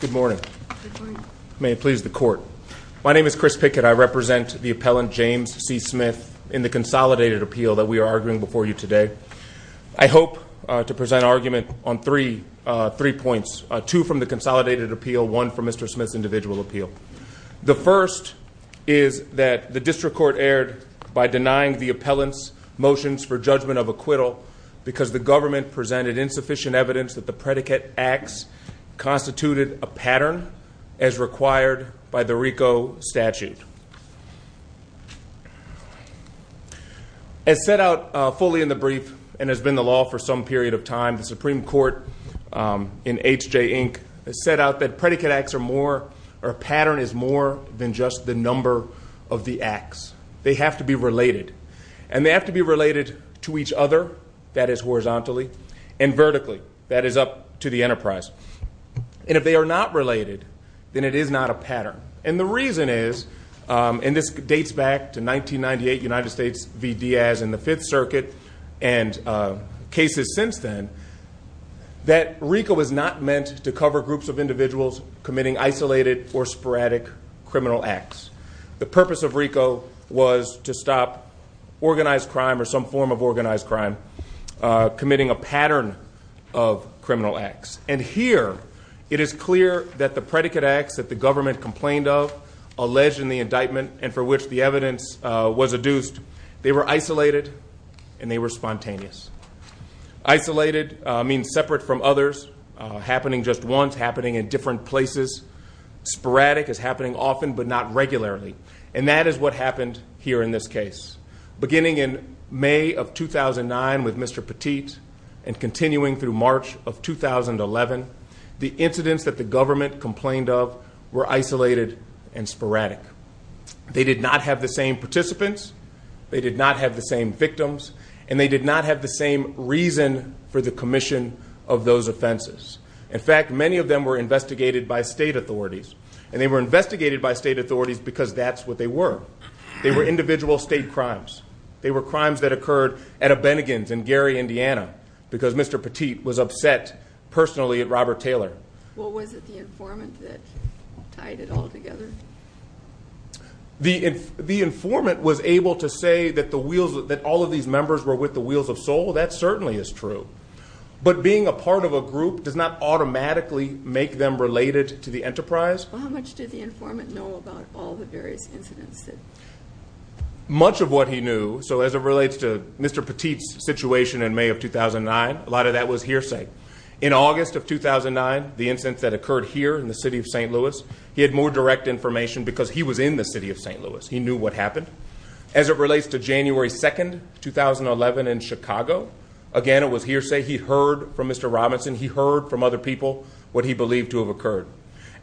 Good morning. May it please the court. My name is Chris Pickett. I represent the appellant James C. Smith in the consolidated appeal that we are arguing before you today. I hope to present an argument on three points. Two from the consolidated appeal, one from Mr. Smith's individual appeal. The first is that the district court erred by denying the appellant's motions for judgment of acquittal because the government presented insufficient evidence that the predicate acts constituted a pattern as required by the RICO statute. As set out fully in the brief and has been the law for some period of time, the Supreme Court in H.J. Inc. has set out that predicate acts are more, or a pattern is more than just the number of the acts. They have to be related. And they have to be related to each other, that is horizontally, and vertically, that is up to the enterprise. And if they are not related, then it is not a pattern. And the reason is, and this dates back to 1998, United States Circuit, and cases since then, that RICO was not meant to cover groups of individuals committing isolated or sporadic criminal acts. The purpose of RICO was to stop organized crime or some form of organized crime committing a pattern of criminal acts. And here, it is clear that the predicate acts that the government complained of, alleged in the indictment, and for which the evidence was adduced, they were isolated and they were spontaneous. Isolated means separate from others, happening just once, happening in different places. Sporadic is happening often, but not regularly. And that is what happened here in this case. Beginning in May of 2009 with Mr. Petit, and continuing through March of 2011, the incidents that the government complained of were isolated and sporadic. They did not have the same participants, they did not have the same victims, and they did not have the same reason for the commission of those offenses. In fact, many of them were investigated by state authorities, and they were investigated by state authorities because that is what they were. They were individual state crimes. They were crimes that occurred at a Bennigan's in Gary, Indiana, because Mr. Petit was upset personally at Robert Taylor. Well, was it the informant that tied it all together? The informant was able to say that all of these members were with the Wheels of Soul. That certainly is true. But being a part of a group does not automatically make them related to the enterprise. Well, how much did the informant know about all the various incidents? Much of what he knew, so as it relates to Mr. Petit's situation in May of 2009, a lot of that was hearsay. In August of 2009, the incident that occurred here in the city of St. Louis, he had more direct information because he was in the city of St. Louis. He knew what happened. As it relates to January 2, 2011 in Chicago, again it was hearsay. He heard from Mr. Robinson. He heard from other people what he believed to have occurred.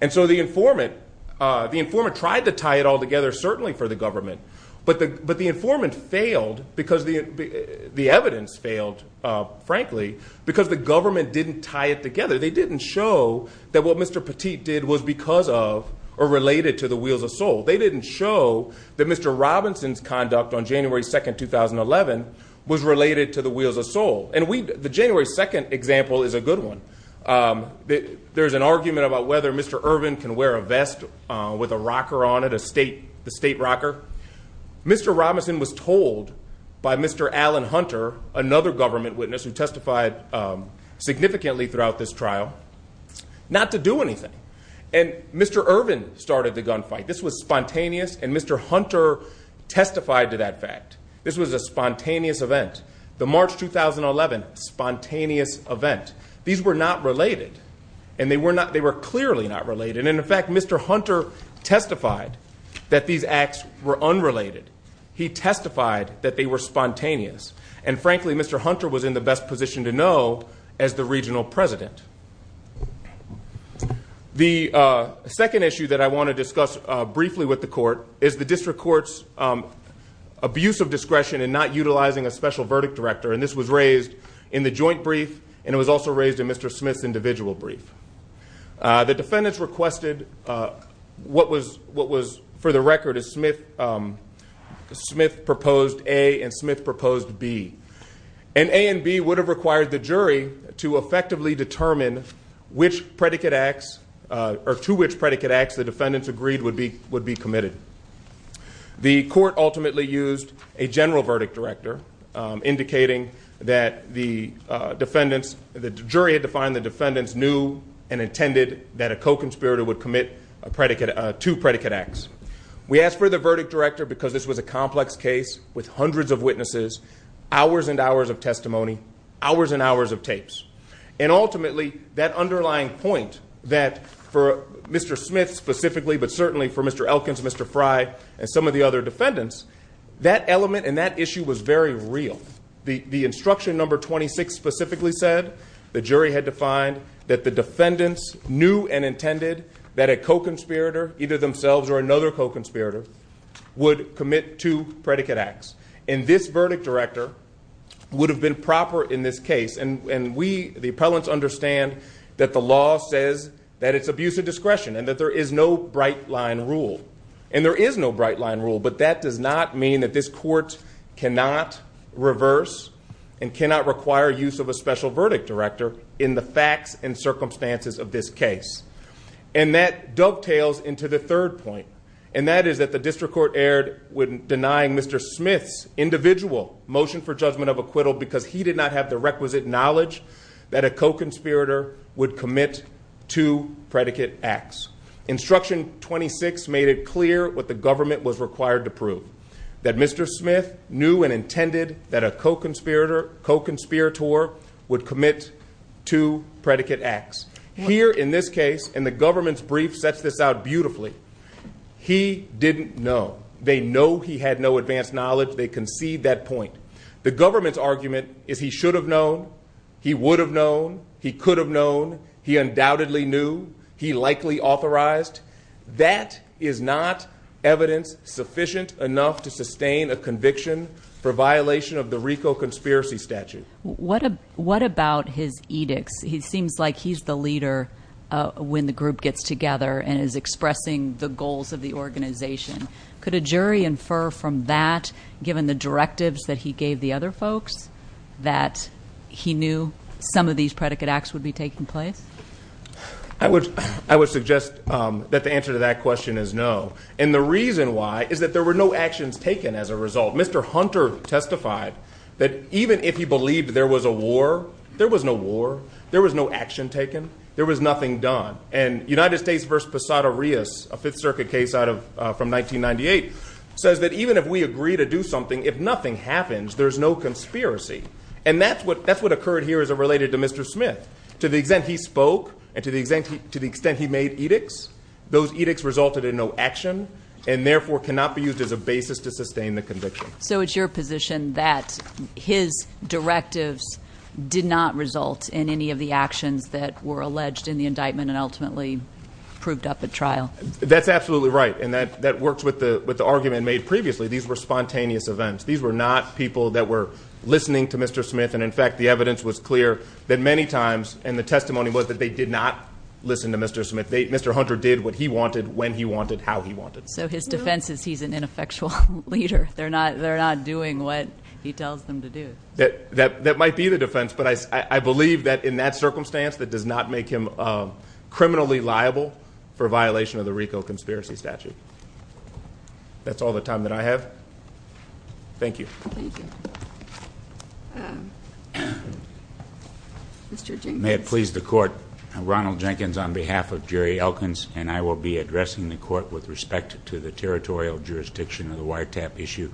And so the informant tried to tie it all together certainly for the government, but the informant failed because the evidence failed, frankly, because the government didn't tie it together. They didn't show that what Mr. Petit did was because of or related to the Wheels of Soul. They didn't show that Mr. Robinson's conduct on January 2, 2011 was related to the Wheels of Soul. The January 2 example is a good one. There's an argument about whether Mr. Irvin can wear a vest with a rocker on it, the state rocker. Mr. Robinson was told by Mr. Alan Hunter, another government witness who testified significantly throughout this trial, not to do anything. And Mr. Irvin started the gunfight. This was spontaneous, and Mr. Hunter testified to that fact. This was a spontaneous event. The March 2011 spontaneous event. These were not related, and they were clearly not related. And in fact, Mr. Hunter testified that these acts were unrelated. He testified that they were spontaneous. And frankly, Mr. Hunter was in the best position to know as the regional president. The second issue that I want to discuss briefly with the court is the district court's abuse of discretion in not utilizing a special verdict director. And this was raised in the joint brief, and it was also raised in Mr. Smith's individual brief. The defendants requested what was, for the record, as Smith proposed A and Smith proposed B. And A and B would have required the jury to effectively determine which predicate acts, or to which predicate acts the defendants agreed would be committed. The court ultimately used a general verdict director, indicating that the jury had defined the defendants knew and intended that a co-conspirator would commit two predicate acts. We asked for the verdict director because this was a complex case with hundreds of witnesses, hours and hours of testimony, hours and hours of tapes. And ultimately, that underlying point that for Mr. Smith specifically, but certainly for Mr. Elkins, Mr. Frye, and some of the other defendants, that element and that issue was very real. The instruction number 26 specifically said the jury had defined that the defendants knew and intended that a co-conspirator, either themselves or another co-conspirator, would commit two predicate acts. And this verdict director would have been proper in this case. And we, the appellants, understand that the law says that it's abuse of discretion and that there is no bright line rule. And there is no bright line rule, but that does not mean that this court cannot reverse and cannot require use of a special verdict director in the facts and circumstances of this case. And that dovetails into the And that is that the district court erred when denying Mr. Smith's individual motion for judgment of acquittal because he did not have the requisite knowledge that a co-conspirator would commit two predicate acts. Instruction 26 made it clear what the government was required to prove, that Mr. Smith knew and intended that a co-conspirator, co-conspirator, would commit two predicate acts. Here in this case, and the government's brief sets this out beautifully, he didn't know. They know he had no advanced knowledge. They concede that point. The government's argument is he should have known, he would have known, he could have known, he undoubtedly knew, he likely authorized. That is not evidence sufficient enough to sustain a conviction for violation of the RICO conspiracy statute. What about his edicts? He seems like he's the leader when the group gets together and is expressing the goals of the organization. Could a jury infer from that, given the directives that he gave the other folks, that he knew some of these predicate acts would be taking place? I would suggest that the answer to that question is no. And the reason why is that there were no actions taken as a result. Mr. Hunter testified that even if he believed there was a war, there was no war. There was no action taken. There was nothing done. And United States v. Posada-Rios, a 5th Circuit case from 1998, says that even if we agree to do something, if nothing happens, there's no conspiracy. And that's what occurred here as it related to Mr. Smith. To the extent he spoke, and to the extent he made edicts, those edicts resulted in no action, and therefore cannot be used as a basis to sustain the conviction. So it's your position that his directives did not result in any of the actions that were alleged in the indictment and ultimately proved up at trial? That's absolutely right. And that works with the argument made previously. These were spontaneous events. These were not people that were listening to Mr. Smith. And in fact, the evidence was clear that many times, and the testimony was that they did not listen to Mr. Smith. Mr. Hunter did what he wanted, when he wanted, how he wanted. So his defense is he's an ineffectual leader. They're not doing what he tells them to do. That might be the defense, but I believe that in that circumstance, that does not make him criminally liable for violation of the RICO conspiracy statute. That's all the time that I have. Thank you. Thank you. Mr. Jenkins. May it please the Court, I'm Ronald Jenkins on behalf of Jerry Elkins, and I will be addressing the Court with respect to the territorial jurisdiction of the wiretap issue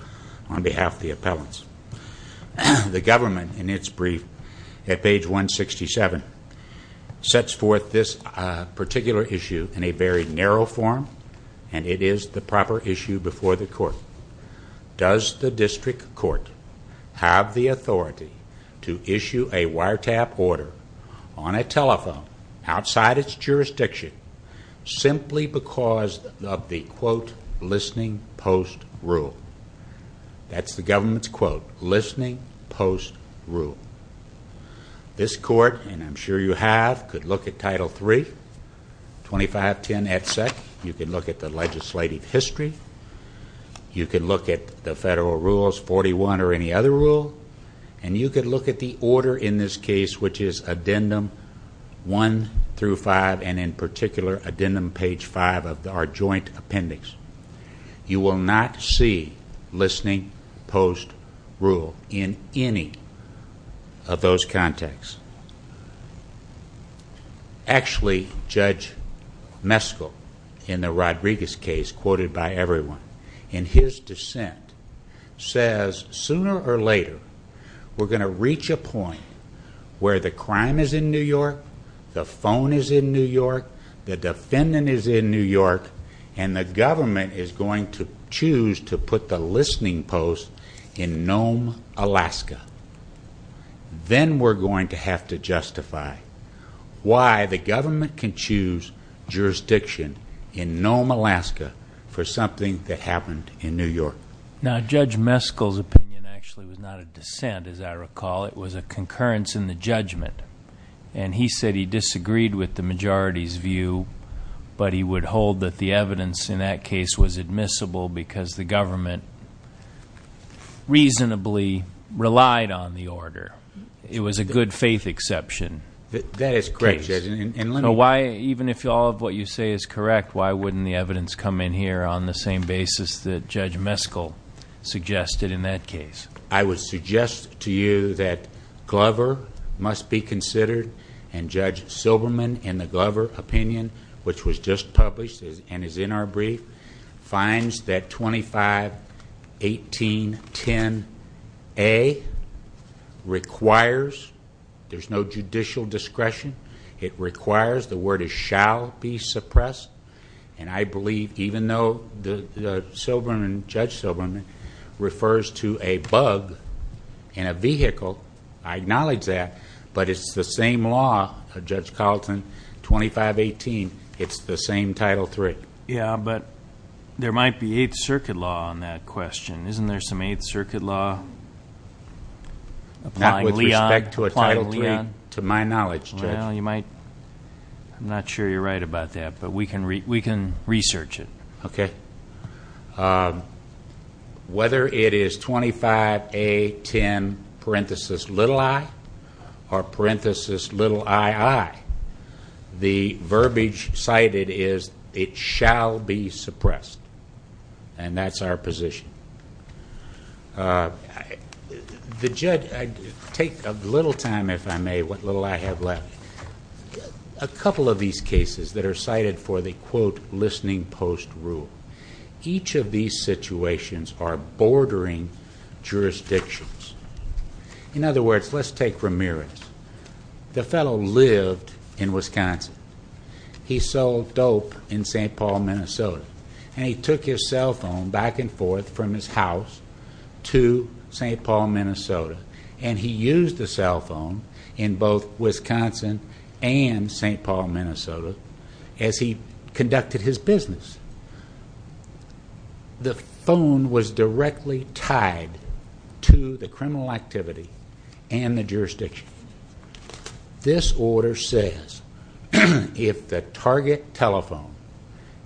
on behalf of the appellants. The government, in its brief at page 167, sets forth this particular issue in a very narrow form, and it is the proper issue before the Court. Does the District Court have the authority to issue a wiretap order on a telephone, outside its jurisdiction, simply because of the, quote, listening post rule? That's the government's quote, listening post rule. This Court, and I'm sure you have, could look at Title III, 2510 et cetera. You can look at the legislative history. You can look at the federal rules, 41 or any other rule, and you could look at the order in this case, which is Addendum 1 through 5, and in particular, Addendum page 5 of our joint appendix. You will not see listening post rule in any of those contexts. Actually, Judge Meskel, in the Rodriguez case, quoted by everyone, in his dissent, says, sooner or later, we're going to reach a point where the crime is in New York, the phone is in New York, the defendant is in New York, and the government is going to choose to put the listening post in Nome, Alaska. Then we're going to have to justify why the government can choose jurisdiction in Nome, Alaska, for something that happened in New York. Now, Judge Meskel's opinion, actually, was not a dissent, as I recall. It was a concurrence in the judgment, and he said he disagreed with the majority's view, but he would hold that the evidence in that case was admissible because the government reasonably relied on the order. It was a good faith exception. That is correct, Judge, and let me... So why, even if all of what you say is correct, why wouldn't the evidence come in here on the same basis that Judge Meskel suggested in that case? I would suggest to you that Glover must be considered, and Judge Silberman, in the Glover opinion, which was just published and is in our brief, finds that 251810A requires... there's no judicial discretion. It requires... the word is shall be suppressed, and I believe, even though Judge Silberman refers to a bug in a vehicle, I acknowledge that, but it's the same law, Judge Carlton, 2518, it's the same Title III. Yes, but there might be Eighth Circuit law on that question. Isn't there some Eighth Circuit law applying Leon? Not with respect to a Title III, to my knowledge, Judge. Well, you might... I'm not sure you're right about that, but we can research it. Okay. Whether it is 25A10, parenthesis, little I, or parenthesis, little II, the verbiage cited is, it shall be suppressed, and that's our position. The judge... take a little time, if I may, what little I have left. A couple of these cases that are cited for the, quote, listening post rule, each of these situations are bordering jurisdictions. In other words, let's take Ramirez. The fellow lived in Wisconsin. He sold dope in St. Paul, Minnesota, and he took his cell phone back and forth from his house to St. Paul, Minnesota, and he used the cell phone in both Wisconsin and St. Paul, Minnesota as he conducted his business. The phone was directly tied to the criminal activity and the jurisdiction. This order says, if the target telephone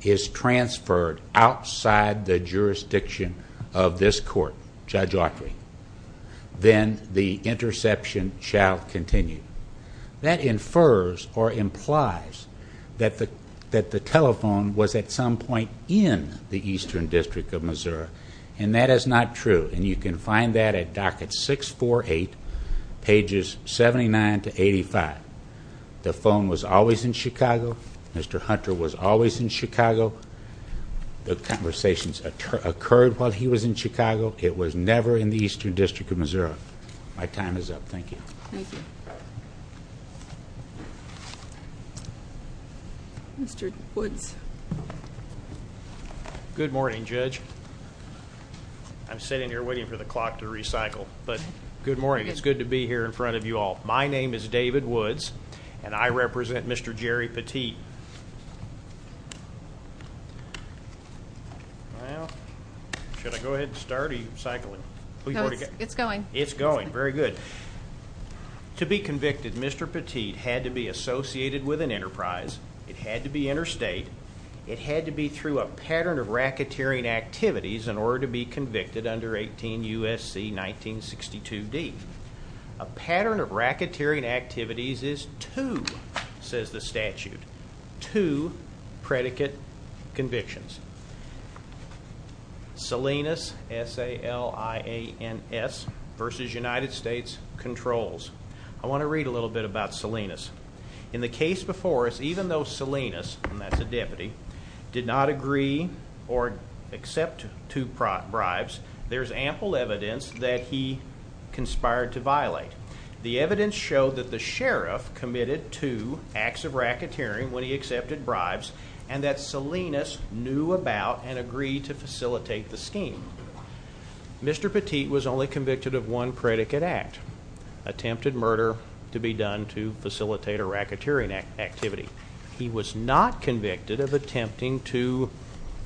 is transferred outside the jurisdiction of this court, Judge Autry, then the interception shall continue. That infers or implies that the telephone was at some point in the Eastern District of Missouri, and that is not true, and you can find that at docket 648, pages 79 to 85. The phone was always in Chicago. Mr. Hunter was always in Chicago. The conversations occurred while he was in Chicago. It was never in the Eastern District of Missouri. My time is up. Thank you. Thank you. Mr. Woods. Good morning, Judge. I'm sitting here waiting for the clock to recycle, but good morning. It's good to be here in front of you all. My name is David Woods, and I represent Mr. Jerry Petit. Well, should I go ahead and start or are you cycling? It's going. It's going. Very good. To be convicted, Mr. Petit had to be associated with an enterprise. It had to be interstate. It had to be through a pattern of racketeering activities in order to be convicted under 18 U.S.C. 1962D. A pattern of racketeering activities is two, says the statute. Two predicate convictions. Salinas, S-A-L-I-N-S, versus United States controls. I want to read a little bit about Salinas. In the case before us, even though Salinas, and that's a deputy, did not agree or accept two bribes, there's committed two acts of racketeering when he accepted bribes, and that Salinas knew about and agreed to facilitate the scheme. Mr. Petit was only convicted of one predicate act, attempted murder to be done to facilitate a racketeering activity. He was not convicted of attempting to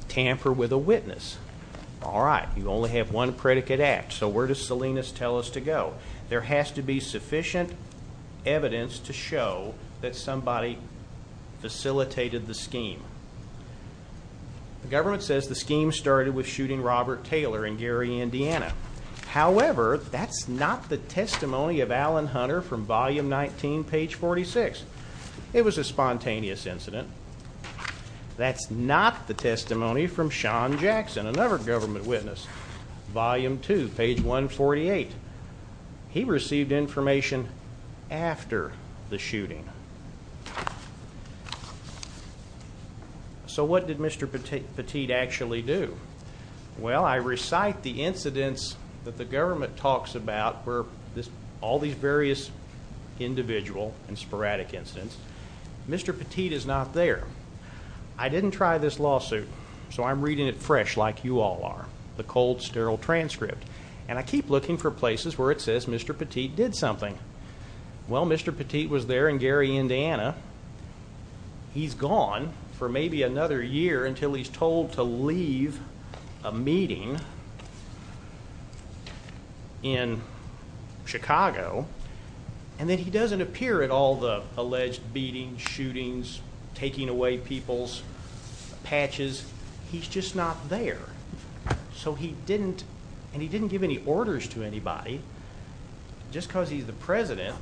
tamper with a witness. All right. You only have one predicate act, so where does Salinas tell us to go? There has to be sufficient evidence to show that somebody facilitated the scheme. The government says the scheme started with shooting Robert Taylor in Gary, Indiana. However, that's not the testimony of Alan Hunter from volume 19, page 46. It was a spontaneous incident. That's not the testimony from Sean Jackson, another government witness. Volume 2, page 148. He received information after the shooting. So what did Mr. Petit actually do? Well, I recite the incidents that the government talks about where all these various individual and sporadic incidents. Mr. Petit is not there. I didn't try this lawsuit, so I'm reading it fresh like you all are, the cold, sterile transcript. And I keep looking for places where it says Mr. Petit did something. Well, Mr. Petit was there in Gary, Indiana. He's gone for maybe another year until he's told to leave a meeting in Chicago, and then he doesn't appear at all the alleged beatings, shootings, taking away people's patches. He's just not there. So he didn't, and he didn't give any orders to anybody. Just because he's the president,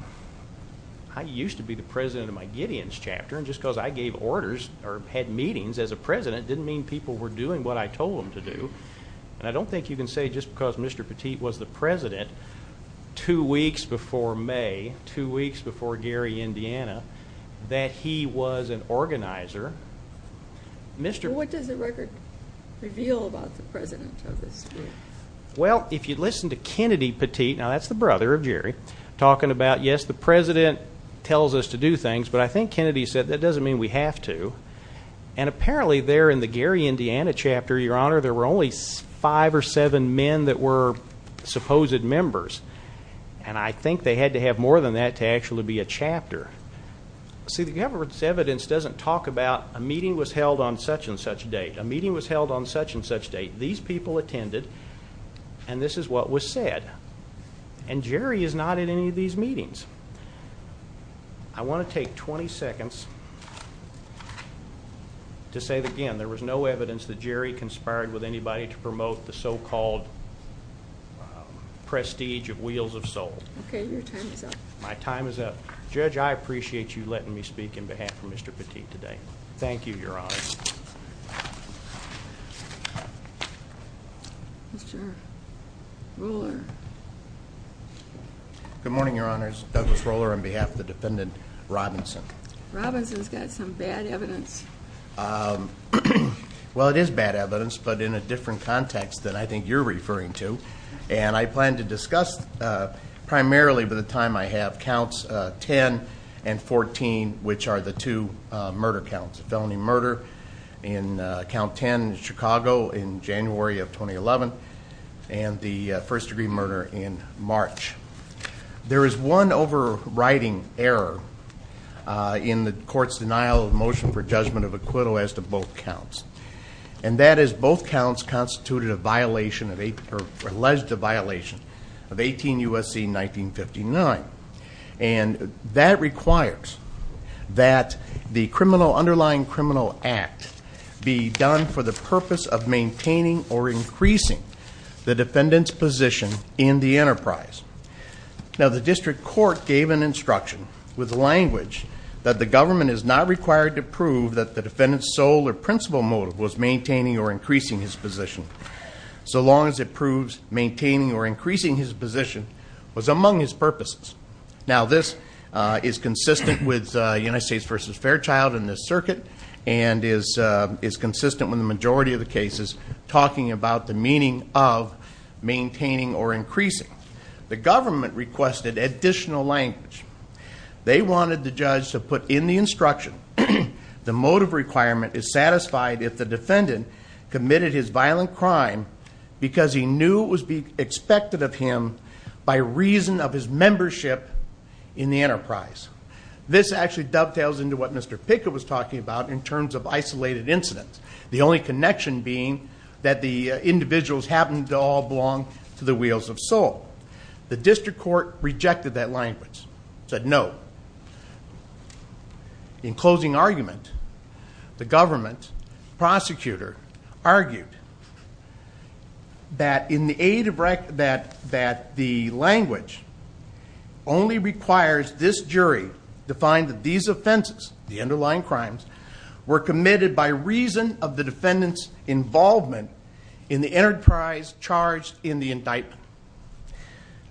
I used to be the president of my Gideon's chapter, and just because I gave orders or had meetings as a president didn't mean people were doing what I told them to do. And I don't think you can say just because Mr. Petit was the president two weeks before May, two weeks before Gary, Indiana, that he was an organizer. What does the record reveal about the president of this group? Well, if you listen to Kennedy Petit, now that's the brother of Jerry, talking about, yes, the president tells us to do things, but I think Kennedy said that doesn't mean we have to. And apparently there in the Gary, there were seven men that were supposed members, and I think they had to have more than that to actually be a chapter. See, the evidence doesn't talk about a meeting was held on such and such date. A meeting was held on such and such date. These people attended, and this is what was said. And Jerry is not in any of these meetings. I want to take 20 seconds to say that, again, there was no evidence that Jerry conspired with anybody to promote the so-called prestige of Wheels of Soul. Okay, your time is up. My time is up. Judge, I appreciate you letting me speak in behalf of Mr. Petit today. Thank you, Your Honor. Mr. Roller. Good morning, Your Honors. Douglas Roller on behalf of the defendant Robinson. Robinson's got some bad evidence. Well, it is bad evidence, but in a different context that I think you're referring to. And I plan to discuss primarily by the time I have counts 10 and 14, which are the two murder counts, felony murder in count 10 in Chicago in January of 2011, and the first-degree murder in March. There is one overriding error in the court's denial of motion for judgment of acquittal as to both counts. And that is both counts constituted a violation, or alleged a violation, of 18 U.S.C. 1959. And that requires that the criminal underlying criminal act be done for the purpose of maintaining or increasing the defendant's position in the enterprise. Now, the district court gave an instruction with language that the government is not required to prove that the defendant's sole or principal motive was maintaining or increasing his position, so long as it proves maintaining or increasing his position was among his purposes. Now, this is consistent with United States v. Fairchild in this circuit, and is consistent with the majority of the cases talking about the meaning of maintaining or increasing. The government requested additional language. They wanted the judge to put in the instruction, the motive requirement is satisfied if the defendant committed his violent crime because he knew it was expected of him by reason of his membership in the enterprise. This actually dovetails into what Mr. Pickett was talking about in terms of isolated incidents, the only connection being that the individuals happened to all belong to the Wheels of Soul. The district court rejected that language, said no. In closing argument, the government prosecutor argued that the language only requires this jury to find that these offenses, the underlying crimes, were committed by reason of the defendant's involvement in the enterprise charged in the indictment.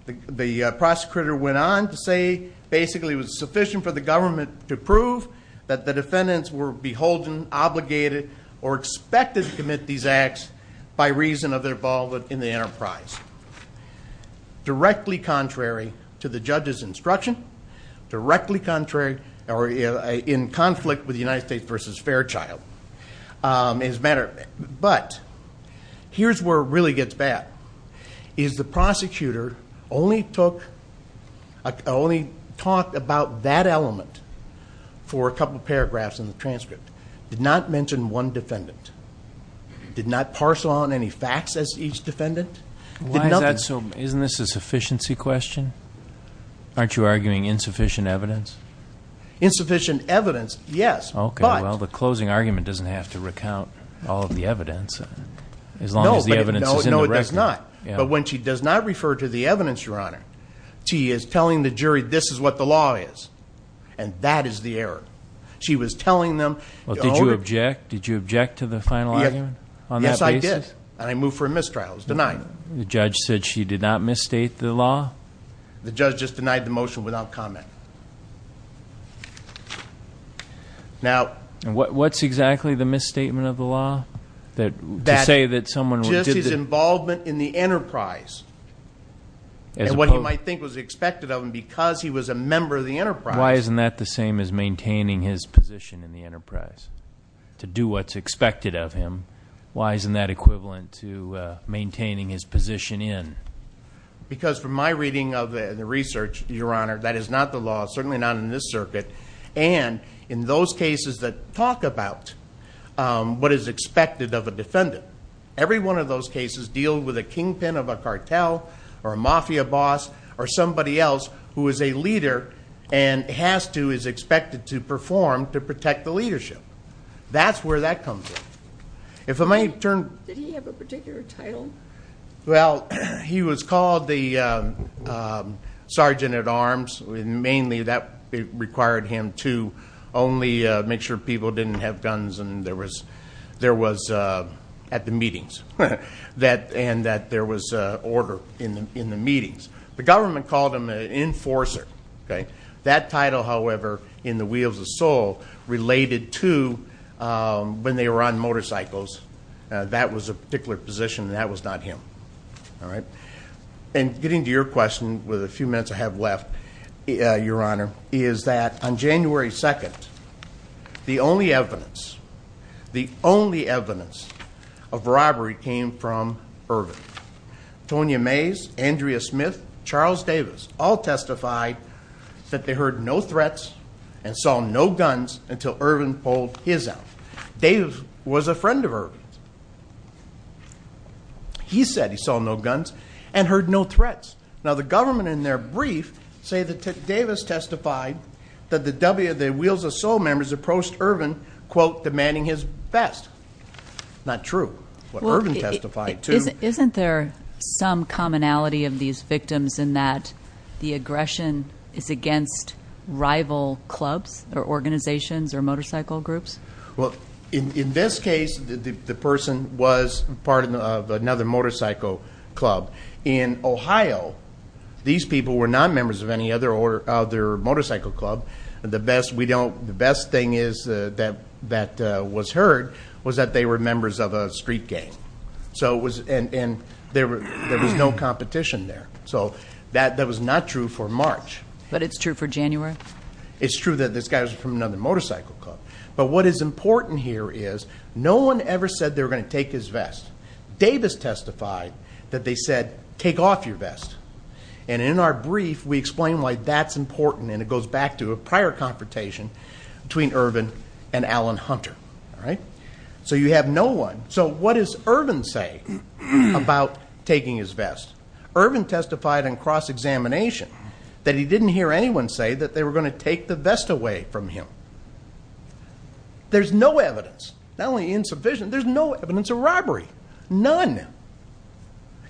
The prosecutor went on to say basically it was sufficient for the government to prove that the defendants were beholden, obligated, or expected to commit these acts by reason of their involvement in the enterprise. Directly contrary to the judge's instruction, directly contrary, or in conflict with United States v. Fairchild. But, here's where it really gets bad, is the prosecutor only took only talked about that element for a couple paragraphs in the transcript. Did not mention one defendant. Did not parcel on any facts as each defendant. Isn't this a sufficiency question? Aren't you arguing insufficient evidence? Insufficient evidence, yes. Okay, well the closing argument doesn't have to recount all of the evidence. No, it does not. But when she does not refer to the evidence, your honor, she is telling the jury this is what the law is. And that is the error. She was telling them. Well, did you object? Did you object to the final argument? Yes, I did. And I moved for a mistrial. I was denied. The judge said she did not misstate the law? The judge just denied the motion without comment. Now, what's exactly the misstatement of the law? To say that someone... Just his involvement in the enterprise. And what you might think was expected of him because he was a member of the enterprise. Why isn't that the same as maintaining his position in the enterprise? To do what's expected of him. Why isn't that equivalent to maintaining his position in? Because from my reading of the research, your honor, that is not the law, of a defendant. Every one of those cases deal with a kingpin of a cartel, or a mafia boss, or somebody else who is a leader and has to, is expected to perform to protect the leadership. That's where that comes in. If I may turn... Did he have a particular title? Well, he was called the sergeant at arms. Mainly that required him to only make sure people didn't have guns and there was... At the meetings. And that there was order in the meetings. The government called him an enforcer. That title, however, in the wheels of Seoul, related to when they were on motorcycles. That was a particular position and that was not him. All right. And getting to your question, with a few minutes I have left, your honor, is that on January 2nd, the only evidence, the only evidence of robbery came from Irvin. Tonya Mays, Andrea Smith, Charles Davis, all testified that they heard no threats and saw no guns until Irvin pulled his out. Dave was a friend of Irvin's. He said he saw no guns and heard no threats. Now, the government in their brief that Davis testified that the wheels of Seoul members approached Irvin, quote, demanding his vest. Not true. What Irvin testified to... Isn't there some commonality of these victims in that the aggression is against rival clubs or organizations or motorcycle groups? Well, in this case, the person was part of another motorcycle club. In Ohio, these people were not members of any other motorcycle club. The best thing that was heard was that they were members of a street gang. There was no competition there. That was not true for March. But it's true for January? It's true that this guy was from another motorcycle club. But what is important here is no one ever said they were going to take his vest. Davis testified that they said, take off your vest. And in our brief, we explain why that's important. And it goes back to a prior confrontation between Irvin and Alan Hunter. So you have no one. So what does Irvin say about taking his vest? Irvin testified in cross-examination that he didn't hear anyone say that they were going to take the vest away from him. There's no evidence, not only insufficient, there's no evidence of robbery. None.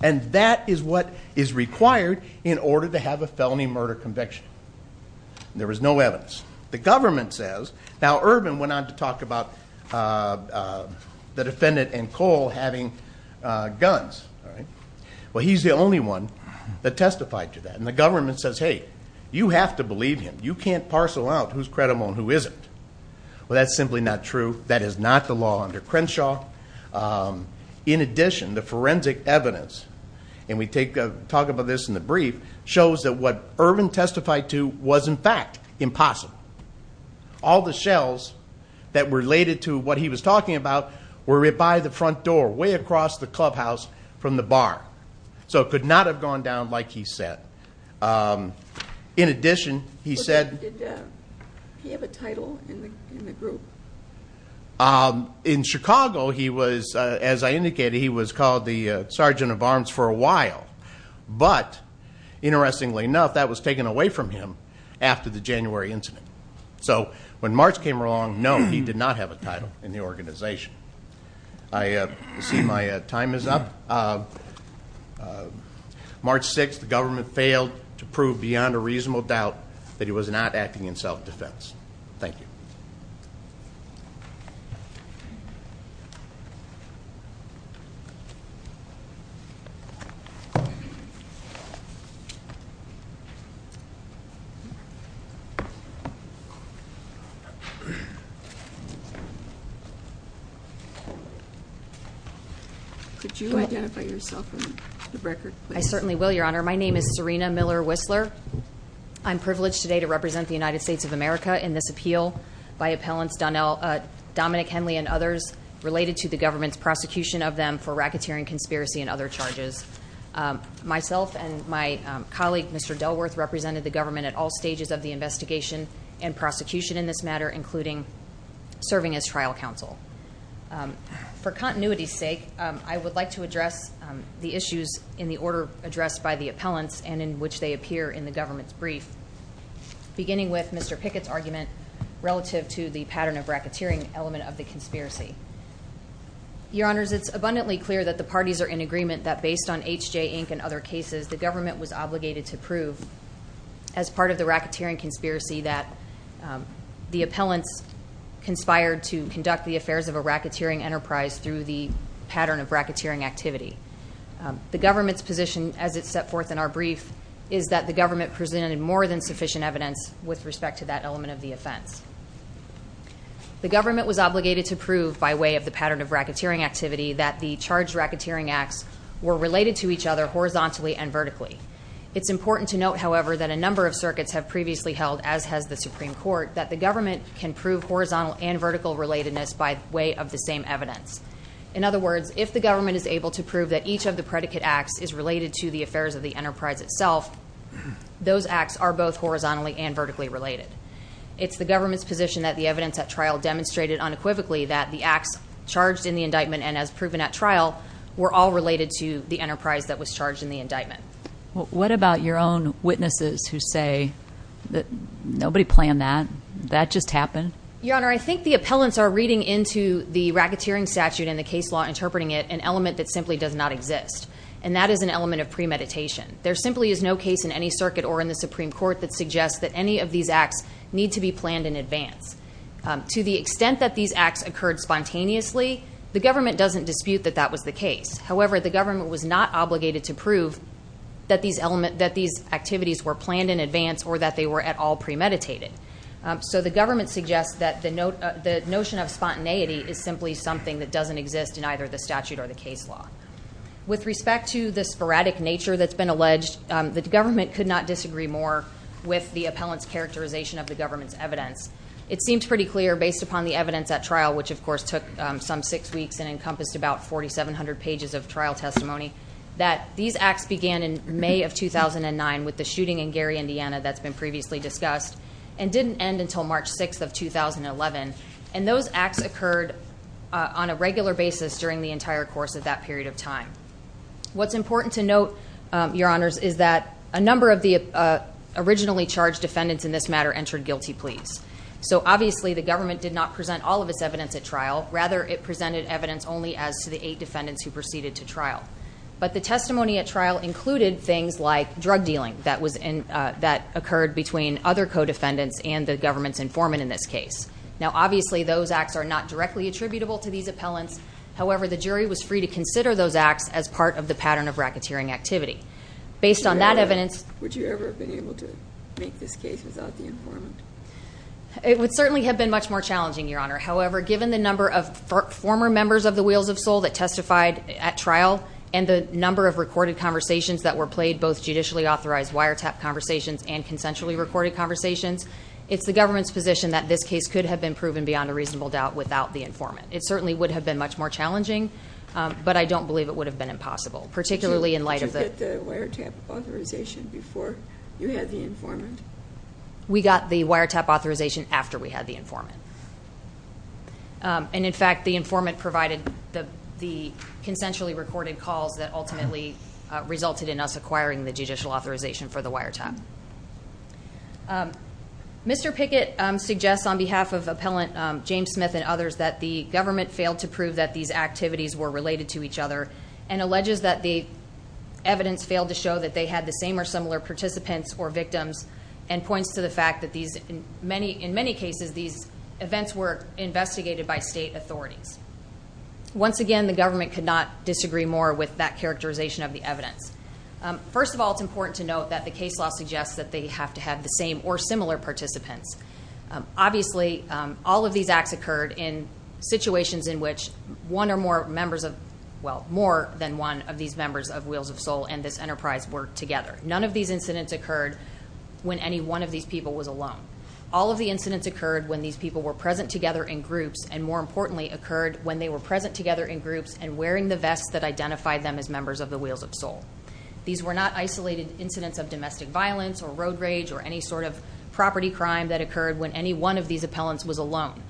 And that is what is required in order to have a felony murder conviction. There was no evidence. The government says, now Irvin went on to talk about the defendant and Cole having guns. Well, he's the only one that testified to that. And the government says, hey, you have to believe him. You can't parcel out who's credible and who isn't. Well, that's simply not true. That is not the law under Crenshaw. In addition, the forensic evidence, and we talk about this in the brief, shows that what Irvin testified to was, in fact, impossible. All the shells that were related to what he was talking about were by the front door, way across the clubhouse from the bar. So it could not have gone down like he said. In addition, he said... Did he have a title in the group? In Chicago, he was, as I indicated, he was called the Sergeant of Arms for a while. But, interestingly enough, that was taken away from him after the January incident. So when March came along, no, he did not have a title in the organization. I see my time is up. March 6th, the government failed to prove beyond a reasonable doubt that he was not acting in self-defense. Thank you. Could you identify yourself for the record? I certainly will, Your Honor. My name is Serena Miller-Whistler. I'm privileged today to represent the United States of America in this appeal by appellants Dominic Henley and others related to the government's prosecution of them for racketeering conspiracy and other charges. Myself and my colleague, Mr. Delworth, represented the government at all serving as trial counsel. For continuity's sake, I would like to address the issues in the order addressed by the appellants and in which they appear in the government's brief, beginning with Mr. Pickett's argument relative to the pattern of racketeering element of the conspiracy. Your Honors, it's abundantly clear that the parties are in agreement that based on H.J. Inc. and other cases, the government was obligated to prove as part of the racketeering conspiracy that the appellants conspired to conduct the affairs of a racketeering enterprise through the pattern of racketeering activity. The government's position as it set forth in our brief is that the government presented more than sufficient evidence with respect to that element of the offense. The government was obligated to prove by way of the pattern of racketeering activity that the charged racketeering acts were related to each other horizontally and vertically. It's important to note, however, that a number of circuits have previously held, as has the Supreme Court, that the government can prove horizontal and vertical relatedness by way of the same evidence. In other words, if the government is able to prove that each of the predicate acts is related to the affairs of the enterprise itself, those acts are both horizontally and vertically related. It's the government's position that the evidence at trial demonstrated unequivocally that the acts charged in the indictment and as proven at trial were all related to the enterprise that was charged in the indictment. What about your own witnesses who say that nobody planned that? That just happened? Your Honor, I think the appellants are reading into the racketeering statute and the case law, interpreting it an element that simply does not exist. And that is an element of premeditation. There simply is no case in any circuit or in the Supreme Court that suggests that any of these acts need to be planned in advance. To the extent that these acts occurred spontaneously, the government doesn't dispute that that was the case. However, the government was not obligated to prove that these activities were planned in advance or that they were at all premeditated. So the government suggests that the notion of spontaneity is simply something that doesn't exist in either the statute or the case law. With respect to the sporadic nature that's been alleged, the government could not disagree more with the appellant's characterization of the government's evidence. It seems pretty clear based upon the evidence at trial, which of course took some six weeks and encompassed about 4,700 pages of trial testimony, that these acts began in May of 2009 with the shooting in Gary, Indiana that's been previously discussed and didn't end until March 6th of 2011. And those acts occurred on a regular basis during the entire course of that period of time. What's important to note, your honors, is that a number of the originally charged defendants in this matter entered guilty pleas. So obviously the government did not present all of its evidence at trial, rather it presented evidence only as to the eight defendants who proceeded to trial. But the testimony at trial included things like drug dealing that occurred between other co-defendants and the government's informant in this case. Now obviously those acts are not directly attributable to these appellants. However, the jury was free to consider those acts as part of the pattern of racketeering activity. Based on that evidence- Would you ever have been able to make this case without the informant? It would certainly have been much more challenging, your honor. However, given the number of former members of the Wheels of Soul that testified at trial and the number of recorded conversations that were played, both judicially authorized wiretap conversations and consensually recorded conversations. It's the government's position that this case could have been proven beyond a reasonable doubt without the informant. It certainly would have been much more challenging, but I don't believe it would have been impossible, particularly in light of the- Did you get the wiretap authorization before you had the informant? We got the wiretap authorization after we had the informant. And in fact, the informant provided the consensually recorded calls that ultimately resulted in us acquiring the judicial authorization for the wiretap. Mr. Pickett suggests on behalf of Appellant James Smith and others that the government failed to prove that these activities were related to each other. And alleges that the evidence failed to show that they had the same or similar participants or victims. And points to the fact that these, in many cases, these events were investigated by state authorities. Once again, the government could not disagree more with that characterization of the evidence. First of all, it's important to note that the case law suggests that they have to have the same or similar participants. Obviously, all of these acts occurred in situations in which one or more members of, well, more than one of these members of Wheels of Soul and this enterprise work together. None of these incidents occurred when any one of these people was alone. All of the incidents occurred when these people were present together in groups, and more importantly, occurred when they were present together in groups and wearing the vests that identified them as members of the Wheels of Soul. These were not isolated incidents of domestic violence, or road rage, or any sort of property crime that occurred when any one of these appellants was alone.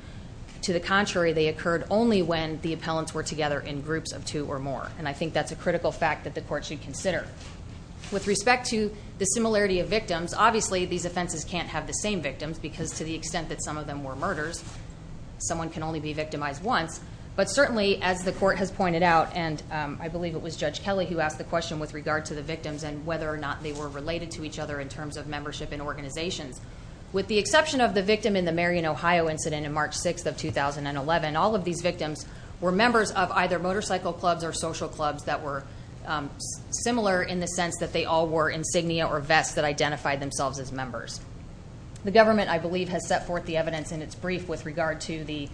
To the contrary, they occurred only when the appellants were together in groups of two or more. And I think that's a critical fact that the court should consider. With respect to the similarity of victims, obviously, these offenses can't have the same victims, because to the extent that some of them were murders, someone can only be victimized once. But certainly, as the court has pointed out, and I believe it was Judge Kelly who asked the question with regard to the victims and whether or not they were related to each other in terms of membership in organizations. With the exception of the victim in the Marion, Ohio incident in March 6th of 2011, all of these victims were members of either motorcycle clubs or social clubs that were similar in the sense that they all wore insignia or vests that identified themselves as members. The government, I believe, has set forth the evidence in its brief with regard to the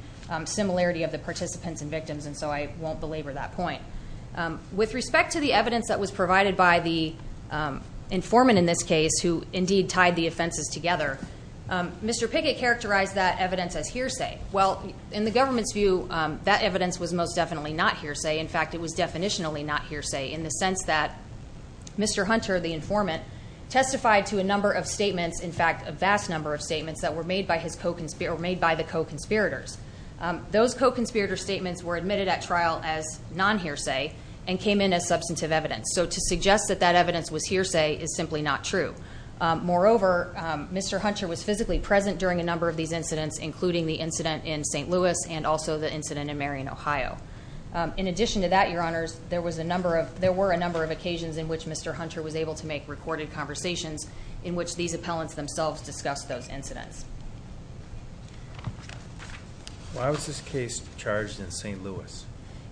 similarity of the participants and victims, and so I won't belabor that point. With respect to the evidence that was provided by the informant in this case, who indeed tied the offenses together, Mr. Pickett characterized that evidence as hearsay. Well, in the government's view, that evidence was most definitely not hearsay. In fact, it was definitionally not hearsay, in the sense that Mr. Hunter, the informant, testified to a number of statements, in fact, a vast number of statements that were made by the co-conspirators. Those co-conspirator statements were admitted at trial as non-hearsay and came in as substantive evidence. So to suggest that that evidence was hearsay is simply not true. Moreover, Mr. Hunter was physically present during a number of these incidents, including the incident in St. Louis and also the incident in Marion, Ohio. In addition to that, your honors, there were a number of occasions in which Mr. Hunter was able to make recorded conversations in which these appellants themselves discussed those incidents. Why was this case charged in St. Louis?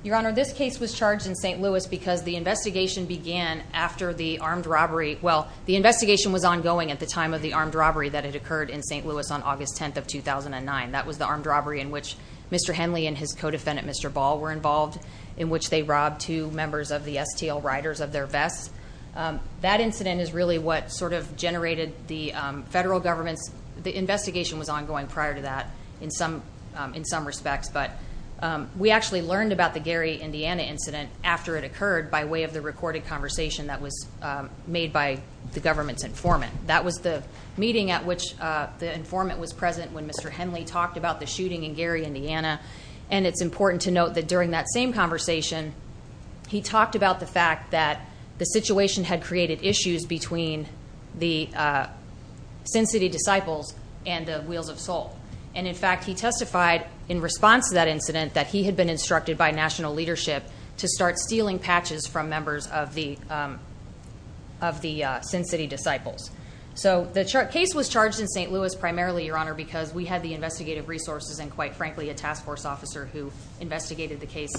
Your honor, this case was charged in St. Louis because the investigation began after the armed robbery. Well, the investigation was ongoing at the time of the armed robbery that had occurred in St. Louis on August 10th of 2009. That was the armed robbery in which Mr. Henley and his co-defendant, Mr. Ball, were involved, in which they robbed two members of the STL riders of their vests. That incident is really what sort of generated the federal government's, the investigation was ongoing prior to that in some respects, but we actually learned about the Gary, Indiana incident after it occurred by way of the recorded conversation that was made by the government's informant. That was the meeting at which the informant was present when Mr. Henley talked about the shooting in Gary, Indiana. And it's important to note that during that same conversation, he talked about the fact that the situation had created issues between the Sin City disciples and the Wheels of Soul. And in fact, he testified in response to that incident that he had been instructed by national leadership to start stealing patches from members of the Sin City disciples. So the case was charged in St. Louis primarily, Your Honor, because we had the investigative resources and quite frankly, a task force officer who investigated the case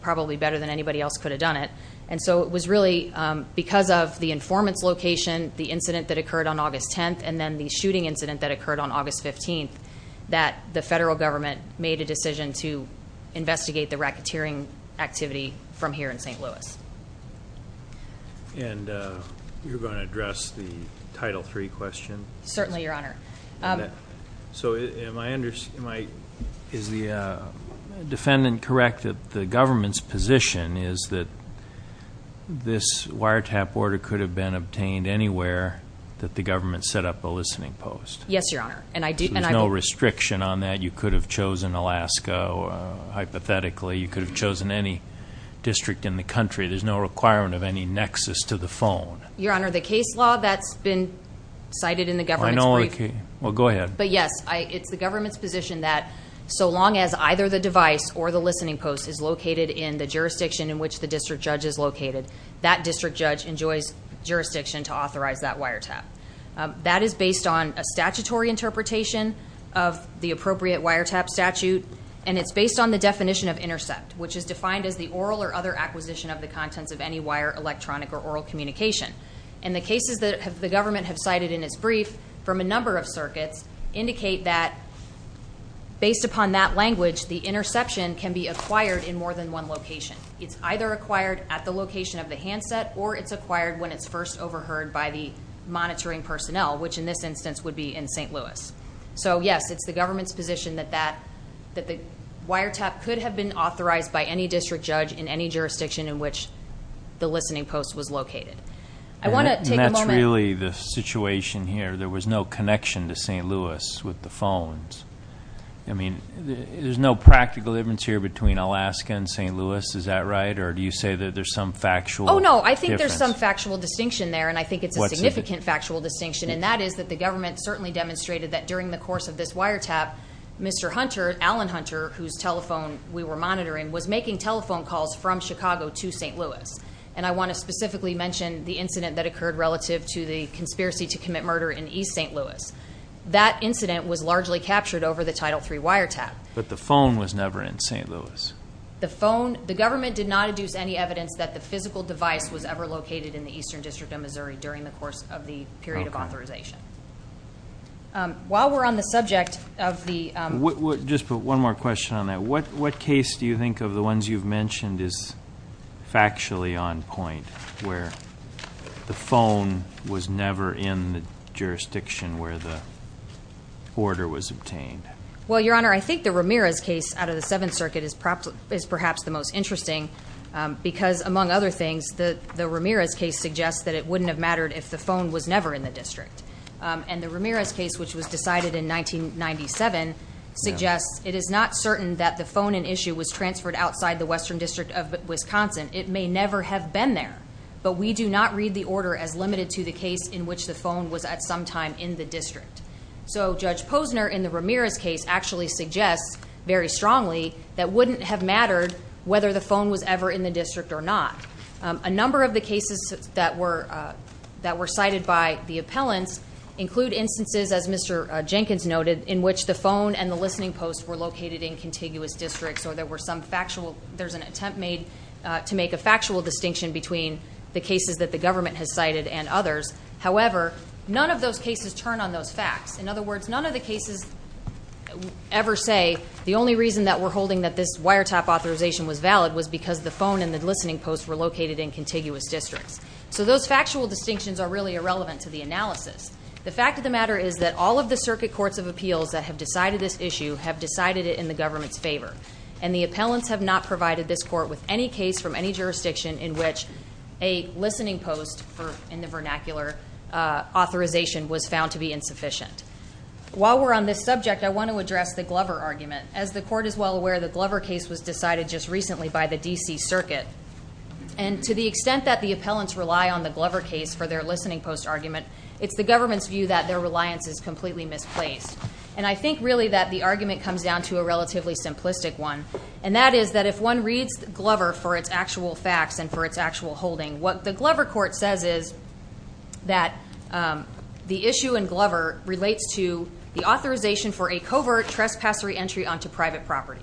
probably better than anybody else could have done it. And so it was really because of the informant's location, the incident that occurred on August 10th, and then the shooting incident that occurred on August 15th, that the federal government made a decision to stop the stealing activity from here in St. Louis. And you're going to address the Title III question? Certainly, Your Honor. So is the defendant correct that the government's position is that this wiretap order could have been obtained anywhere that the government set up a listening post? Yes, Your Honor. And I do- There's no restriction on that. You could have chosen Alaska. Hypothetically, you could have chosen any district in the country. There's no requirement of any nexus to the phone. Your Honor, the case law that's been cited in the government's brief- I know the case. Well, go ahead. But yes, it's the government's position that so long as either the device or the listening post is located in the jurisdiction in which the district judge is located, that district judge enjoys jurisdiction to authorize that wiretap. That is based on a statutory interpretation of the appropriate wiretap statute. And it's based on the definition of intercept, which is defined as the oral or other acquisition of the contents of any wire, electronic, or oral communication. And the cases that the government have cited in its brief from a number of circuits indicate that based upon that language, the interception can be acquired in more than one location. It's either acquired at the location of the handset or it's acquired when it's first overheard by the monitoring personnel, which in this instance would be in St. Louis. So yes, it's the government's position that the wiretap could have been authorized by any district judge in any jurisdiction in which the listening post was located. I want to take a moment- And that's really the situation here. There was no connection to St. Louis with the phones. I mean, there's no practical difference here between Alaska and St. Louis, is that right? Or do you say that there's some factual difference? No, I think there's some factual distinction there, and I think it's a significant factual distinction. And that is that the government certainly demonstrated that during the course of this wiretap, Mr. Hunter, Alan Hunter, whose telephone we were monitoring, was making telephone calls from Chicago to St. Louis. And I want to specifically mention the incident that occurred relative to the conspiracy to commit murder in East St. Louis. That incident was largely captured over the Title III wiretap. But the phone was never in St. Louis. The phone, the government did not deduce any evidence that the physical device was ever located in the Eastern District of Missouri during the course of the period of authorization. While we're on the subject of the- Just one more question on that. What case do you think of the ones you've mentioned is factually on point, where the phone was never in the jurisdiction where the order was obtained? Well, Your Honor, I think the Ramirez case out of the Seventh Circuit is perhaps the most interesting, because among other things, the Ramirez case suggests that it wouldn't have mattered if the phone was never in the district. And the Ramirez case, which was decided in 1997, suggests it is not certain that the phone in issue was transferred outside the Western District of Wisconsin, it may never have been there. But we do not read the order as limited to the case in which the phone was at some time in the district. So Judge Posner in the Ramirez case actually suggests very strongly that wouldn't have mattered whether the phone was ever in the district or not. A number of the cases that were cited by the appellants include instances, as Mr. Jenkins noted, in which the phone and the listening post were located in contiguous districts. Or there's an attempt made to make a factual distinction between the cases that the government has cited and others. However, none of those cases turn on those facts. In other words, none of the cases ever say the only reason that we're holding that this wiretap authorization was valid was because the phone and the listening post were located in contiguous districts. So those factual distinctions are really irrelevant to the analysis. The fact of the matter is that all of the circuit courts of appeals that have decided this issue have decided it in the government's favor. And the appellants have not provided this court with any case from any jurisdiction in which a listening post in the vernacular authorization was found to be insufficient. While we're on this subject, I want to address the Glover argument. As the court is well aware, the Glover case was decided just recently by the DC circuit. And to the extent that the appellants rely on the Glover case for their listening post argument, it's the government's view that their reliance is completely misplaced. And I think really that the argument comes down to a relatively simplistic one. And that is that if one reads Glover for its actual facts and for its actual holding, what the Glover court says is that the issue in Glover relates to the authorization for a covert trespass re-entry onto private property.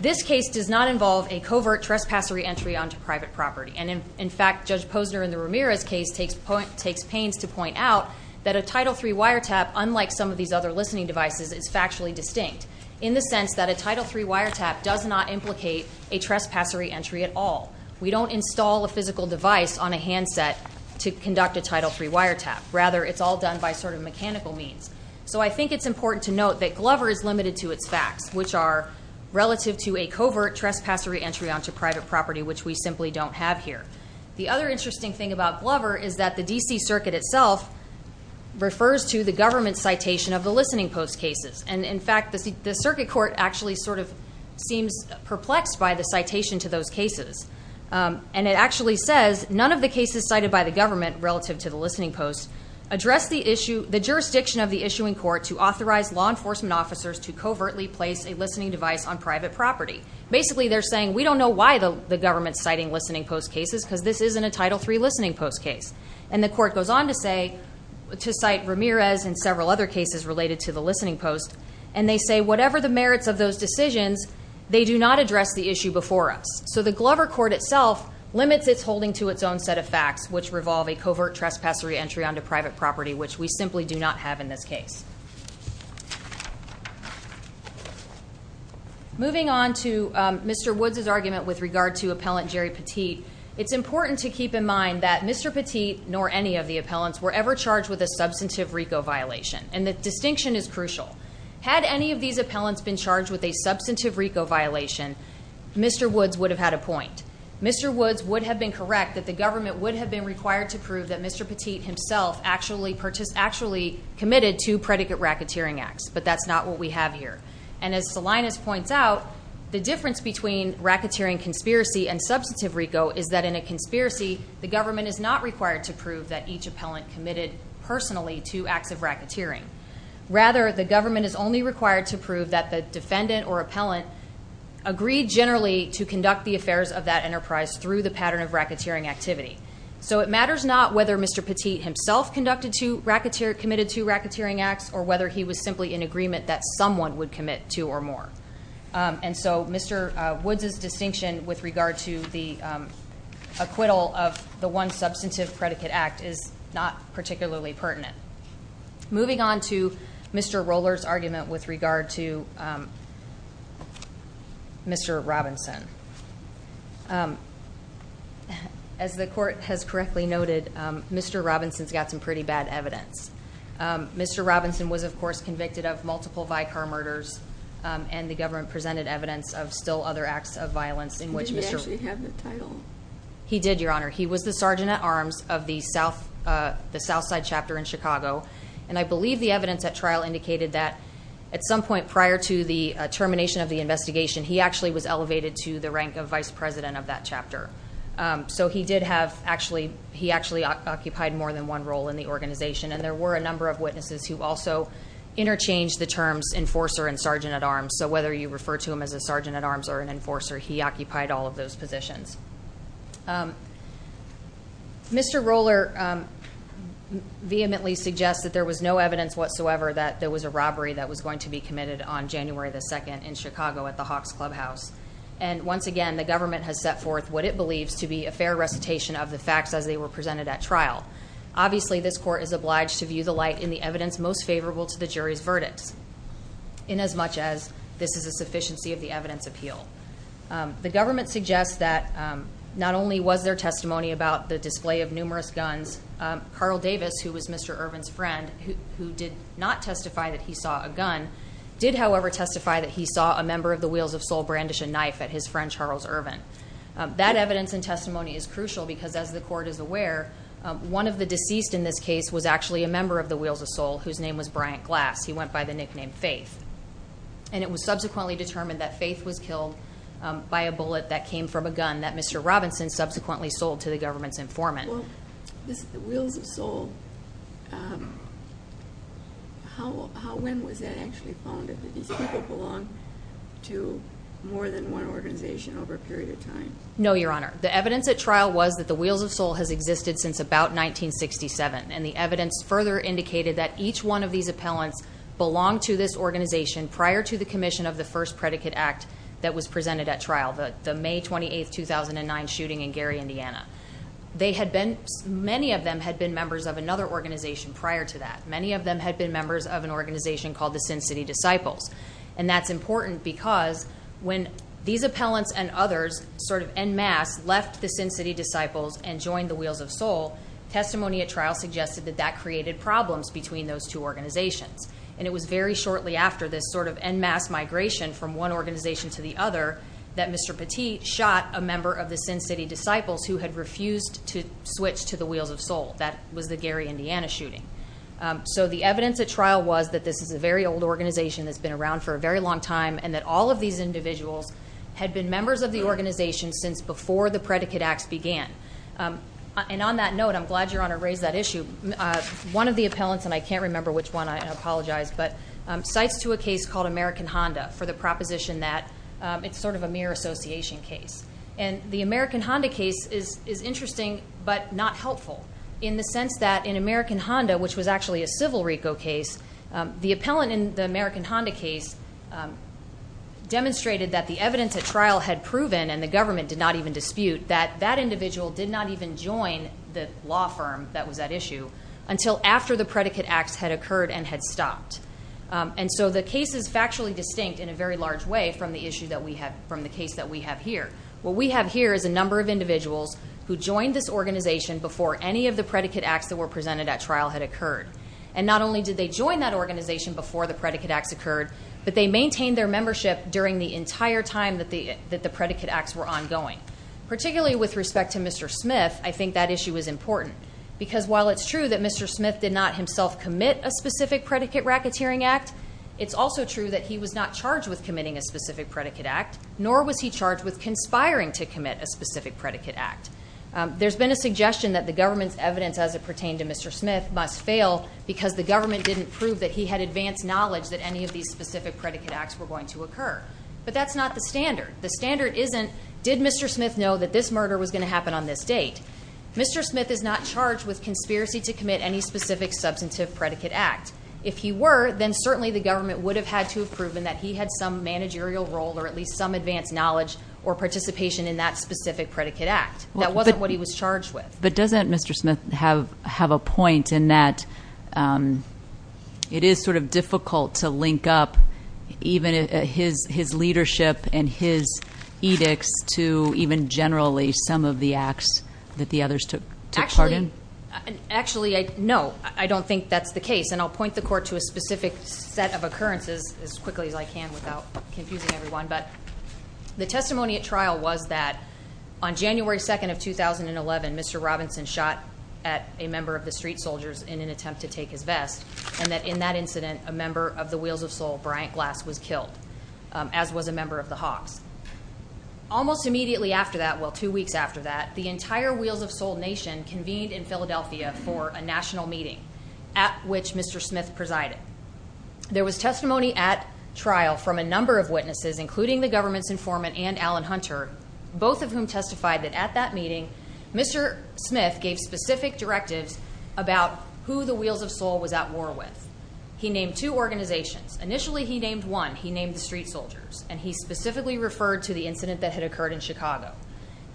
This case does not involve a covert trespass re-entry onto private property. And in fact, Judge Posner in the Ramirez case takes pains to point out that a Title III wiretap, unlike some of these other listening devices, is factually distinct. In the sense that a Title III wiretap does not implicate a trespass re-entry at all. We don't install a physical device on a handset to conduct a Title III wiretap. Rather, it's all done by sort of mechanical means. So I think it's important to note that Glover is limited to its facts, which are relative to a covert trespass re-entry onto private property, which we simply don't have here. The other interesting thing about Glover is that the DC circuit itself refers to the government citation of the listening post cases. And in fact, the circuit court actually sort of seems perplexed by the citation to those cases. And it actually says, none of the cases cited by the government relative to the listening post address the jurisdiction of the issuing court to authorize law enforcement officers to covertly place a listening device on private property. Basically, they're saying, we don't know why the government's citing listening post cases, because this isn't a Title III listening post case. And the court goes on to cite Ramirez and several other cases related to the listening post. And they say, whatever the merits of those decisions, they do not address the issue before us. So the Glover court itself limits its holding to its own set of facts, which revolve a covert trespass re-entry onto private property, which we simply do not have in this case. Moving on to Mr. Woods' argument with regard to Appellant Jerry Petit. It's important to keep in mind that Mr. Petit, nor any of the appellants, were ever charged with a substantive RICO violation. And the distinction is crucial. Had any of these appellants been charged with a substantive RICO violation, Mr. Woods would have had a point. Mr. Woods would have been correct that the government would have been required to prove that Mr. Petit himself actually committed two predicate racketeering acts, but that's not what we have here. And as Salinas points out, the difference between racketeering conspiracy and substantive RICO is that in a conspiracy, the government is not required to prove that each appellant committed personally two acts of racketeering. Rather, the government is only required to prove that the defendant or appellant agreed generally to conduct the affairs of that enterprise through the pattern of racketeering activity. So it matters not whether Mr. Petit himself committed two racketeering acts or whether he was simply in agreement that someone would commit two or more. And so Mr. Woods' distinction with regard to the acquittal of the one substantive predicate act is not particularly pertinent. Moving on to Mr. Roller's argument with regard to Mr. Robinson. As the court has correctly noted, Mr. Robinson's got some pretty bad evidence. Mr. Robinson was, of course, convicted of multiple Vicar murders and the government presented evidence of still other acts of violence in which Mr. He did, Your Honor. He was the sergeant at arms of the Southside chapter in Chicago. And I believe the evidence at trial indicated that at some point prior to the termination of the investigation, he actually was elevated to the rank of vice president of that chapter. So he did have actually, he actually occupied more than one role in the organization. And there were a number of witnesses who also interchanged the terms enforcer and sergeant at arms. So whether you refer to him as a sergeant at arms or an enforcer, he occupied all of those positions. Mr. Roller vehemently suggests that there was no evidence whatsoever that there was a robbery that was going to be committed on January the 2nd in Chicago at the Hawks Clubhouse. And once again, the government has set forth what it believes to be a fair recitation of the facts as they were presented at trial. Obviously, this court is obliged to view the light in the evidence most favorable to the jury's verdicts, in as much as this is a sufficiency of the evidence appeal. The government suggests that not only was there testimony about the display of numerous guns, Carl Davis, who was Mr. Irvin's friend, who did not testify that he saw a gun, did however testify that he saw a member of the Wheels of Soul brandish a knife at his friend Charles Irvin. That evidence and testimony is crucial because as the court is aware, one of the deceased in this case was actually a member of the Wheels of Soul whose name was Bryant Glass. He went by the nickname Faith. And it was subsequently determined that Faith was killed by a bullet that came from a gun that Mr. Robinson subsequently sold to the government's informant. The Wheels of Soul, when was that actually found that these people belonged to more than one organization over a period of time? No, Your Honor. The evidence at trial was that the Wheels of Soul has existed since about 1967, and the evidence further indicated that each one of these appellants belonged to this organization prior to the commission of the first predicate act that was presented at trial, the May 28th, 2009 shooting in Gary, Indiana. Many of them had been members of another organization prior to that. Many of them had been members of an organization called the Sin City Disciples. And that's important because when these appellants and others sort of en masse left the Sin City Disciples and joined the Wheels of Soul, testimony at trial suggested that that created problems between those two organizations. And it was very shortly after this sort of en masse migration from one organization to the other, that Mr. Petit shot a member of the Sin City Disciples who had refused to switch to the Wheels of Soul. That was the Gary, Indiana shooting. So the evidence at trial was that this is a very old organization that's been around for a very long time, and that all of these individuals had been members of the organization since before the predicate acts began. And on that note, I'm glad Your Honor raised that issue. One of the appellants, and I can't remember which one, I apologize, but cites to a case called American Honda for the proposition that it's sort of a mere association case. And the American Honda case is interesting but not helpful in the sense that in American Honda, which was actually a civil RICO case, the appellant in the American Honda case demonstrated that the evidence at trial had proven, and the government did not even dispute, that that individual did not even join the law firm that was at issue until after the predicate acts had occurred and had stopped. And so the case is factually distinct in a very large way from the case that we have here. What we have here is a number of individuals who joined this organization before any of the predicate acts that were presented at trial had occurred. And not only did they join that organization before the predicate acts occurred, but they maintained their membership during the entire time that the predicate acts were ongoing. Particularly with respect to Mr. Smith, I think that issue is important. Because while it's true that Mr. Smith did not himself commit a specific predicate racketeering act, it's also true that he was not charged with committing a specific predicate act, nor was he charged with conspiring to commit a specific predicate act. There's been a suggestion that the government's evidence as it pertained to Mr. Smith must fail because the government didn't prove that he had advanced knowledge that any of these specific predicate acts were going to occur. But that's not the standard. The standard isn't, did Mr. Smith know that this murder was going to happen on this date? Mr. Smith is not charged with conspiracy to commit any specific substantive predicate act. If he were, then certainly the government would have had to have proven that he had some managerial role or at least some advanced knowledge or participation in that specific predicate act. That wasn't what he was charged with. But doesn't Mr. Smith have a point in that it is sort of difficult to link up even his leadership and his edicts to even generally some of the acts that the others took part in? Actually, no, I don't think that's the case. And I'll point the court to a specific set of occurrences as quickly as I can without confusing everyone. But the testimony at trial was that on January 2nd of 2011, Mr. Robinson shot at a member of the street soldiers in an attempt to take his vest. And that in that incident, a member of the Wheels of Soul, Bryant Glass, was killed, as was a member of the Hawks. Almost immediately after that, well, two weeks after that, the entire Wheels of Soul nation convened in Philadelphia for a national meeting at which Mr. Smith presided. There was testimony at trial from a number of witnesses, including the government's informant and Alan Hunter, both of whom testified that at that meeting, Mr. Smith gave specific directives about who the Wheels of Soul was at war with. He named two organizations. Initially, he named one. He named the street soldiers. And he specifically referred to the incident that had occurred in Chicago.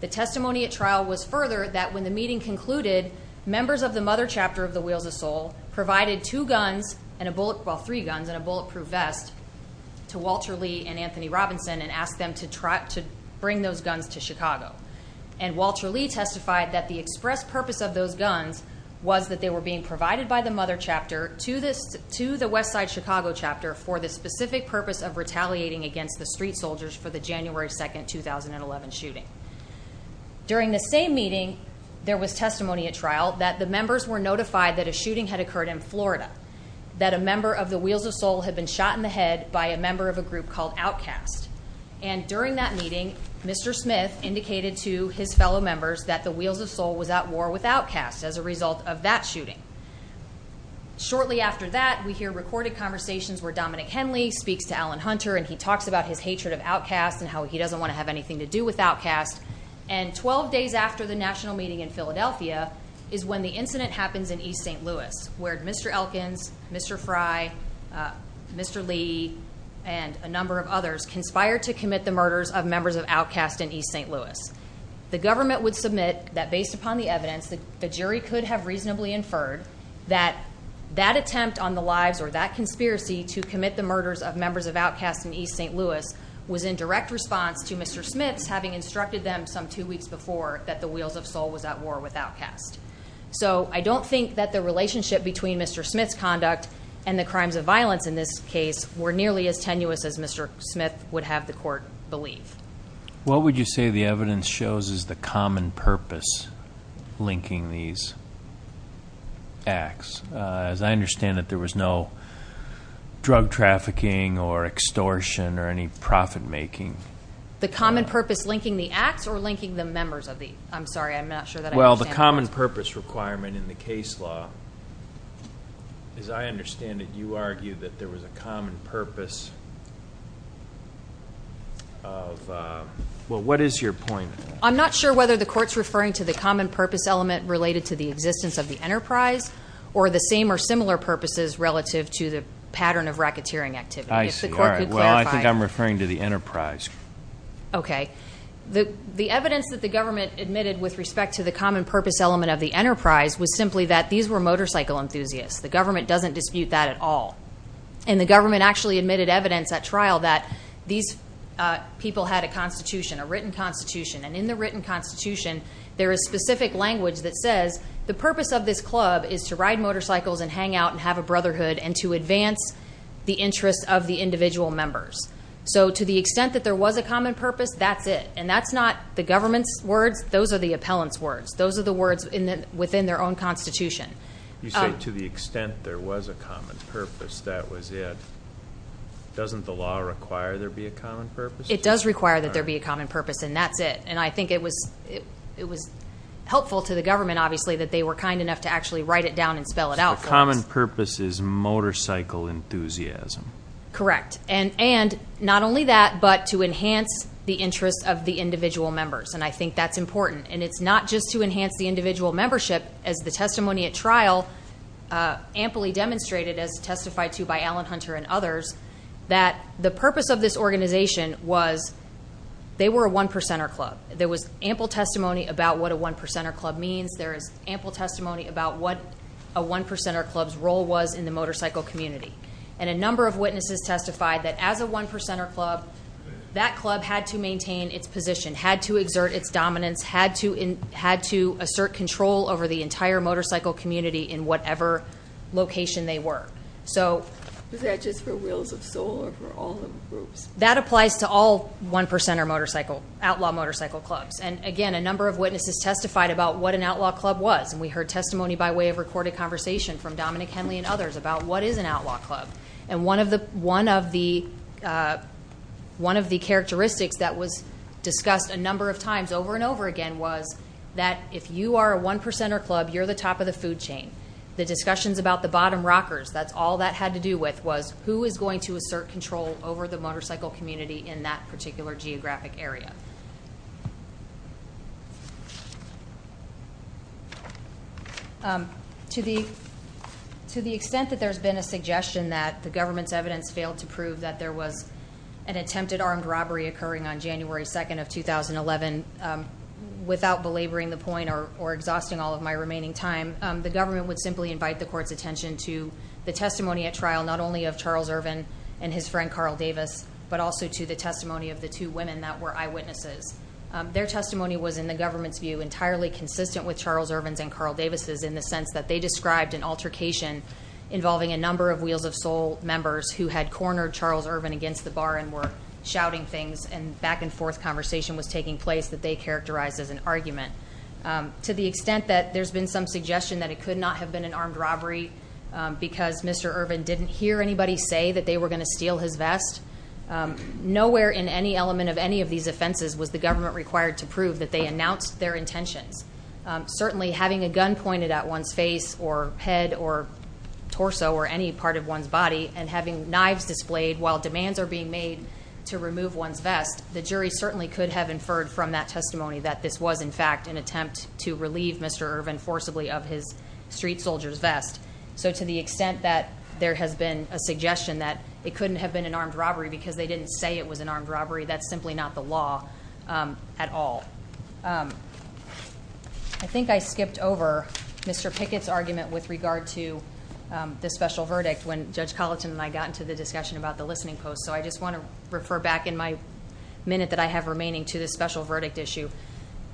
The testimony at trial was further that when the meeting concluded, members of the mother chapter of the Wheels of Soul provided three guns and a bulletproof vest to Walter Lee and Anthony Robinson and asked them to bring those guns to Chicago. And Walter Lee testified that the express purpose of those guns was that they were being provided by the mother chapter to the west side Chicago chapter for the specific purpose of retaliating against the street soldiers for the January 2nd, 2011 shooting. During the same meeting, there was testimony at trial that the members were notified that a shooting had occurred in Florida. That a member of the Wheels of Soul had been shot in the head by a member of a group called Outcast. And during that meeting, Mr. Smith indicated to his fellow members that the Wheels of Soul was at war with Outcast as a result of that shooting. Shortly after that, we hear recorded conversations where Dominic Henley speaks to Alan Hunter and he talks about his hatred of Outcast and how he doesn't want to have anything to do with Outcast. And 12 days after the national meeting in Philadelphia is when the incident happens in East St. Louis, where Mr. Elkins, Mr. Fry, Mr. Lee, and a number of others conspired to commit the murders of members of Outcast in East St. Louis. The government would submit that based upon the evidence, the jury could have reasonably inferred that that attempt on the lives or that conspiracy to commit the murders of members of Outcast in East St. Louis was in direct response to Mr. Smith's having instructed them some two weeks before that the Wheels of Soul was at war with Outcast. So I don't think that the relationship between Mr. Smith's conduct and the crimes of violence in this case were nearly as tenuous as Mr. Smith would have the court believe. What would you say the evidence shows is the common purpose linking these acts? As I understand it, there was no drug trafficking or extortion or any profit making. The common purpose linking the acts or linking the members of the, I'm sorry, I'm not sure that I understand. Well, the common purpose requirement in the case law, as I understand it, you argue that there was a common purpose of, well, what is your point? I'm not sure whether the court's referring to the common purpose element related to the existence of the enterprise or the same or similar purposes relative to the pattern of racketeering activity. If the court could clarify. Well, I think I'm referring to the enterprise. Okay. The evidence that the government admitted with respect to the common purpose element of the enterprise was simply that these were motorcycle enthusiasts. The government doesn't dispute that at all. And the government actually admitted evidence at trial that these people had a constitution, a written constitution. And in the written constitution, there is specific language that says the purpose of this club is to ride motorcycles and hang out and have a brotherhood and to advance the interests of the individual members. So to the extent that there was a common purpose, that's it. And that's not the government's words, those are the appellant's words. Those are the words within their own constitution. You say to the extent there was a common purpose, that was it. Doesn't the law require there be a common purpose? It does require that there be a common purpose, and that's it. And I think it was helpful to the government, obviously, that they were kind enough to actually write it down and spell it out for us. The common purpose is motorcycle enthusiasm. Correct. And not only that, but to enhance the interests of the individual members. And I think that's important. And it's not just to enhance the individual membership, as the testimony at trial amply demonstrated as testified to by Alan Hunter and others, that the purpose of this organization was they were a one percenter club. There was ample testimony about what a one percenter club means. There is ample testimony about what a one percenter club's role was in the motorcycle community. And a number of witnesses testified that as a one percenter club, that club had to maintain its position, had to exert its dominance, had to assert control over the entire motorcycle community in whatever location they were. So- Is that just for wheels of sole or for all groups? That applies to all one percenter motorcycle, outlaw motorcycle clubs. And again, a number of witnesses testified about what an outlaw club was. And we heard testimony by way of recorded conversation from Dominic Henley and others about what is an outlaw club. And one of the characteristics that was discussed a number of times over and over again was that if you are a one percenter club, you're the top of the food chain. The discussions about the bottom rockers, that's all that had to do with was who is going to assert control over the motorcycle community in that particular geographic area. To the extent that there's been a suggestion that the government's evidence failed to prove that there was an attempted armed robbery occurring on January 2nd of 2011, without belaboring the point or exhausting all of my remaining time, the government would simply invite the court's attention to the testimony at trial, not only of Charles Irvin and his friend Carl Davis, but also to the testimony of the two women that were eyewitnesses. Their testimony was, in the government's view, entirely consistent with Charles Irvin's and Carl Davis's in the sense that they described an altercation involving a number of Wheels of Soul members who had cornered Charles Irvin against the bar and were shouting things. And back and forth conversation was taking place that they characterized as an argument. To the extent that there's been some suggestion that it could not have been an armed robbery because Mr. Irvin didn't hear anybody say that they were going to steal his vest. Nowhere in any element of any of these offenses was the government required to prove that they announced their intentions. Certainly having a gun pointed at one's face or head or torso or any part of one's body and having knives displayed while demands are being made to remove one's vest. The jury certainly could have inferred from that testimony that this was in fact an attempt to relieve Mr. Irvin forcibly of his street soldier's vest. So to the extent that there has been a suggestion that it couldn't have been an armed robbery because they didn't say it was an armed robbery. That's simply not the law at all. I think I skipped over Mr. Pickett's argument with regard to the special verdict when Judge Colleton and I got into the discussion about the listening post, so I just want to refer back in my minute that I have remaining to the special verdict issue.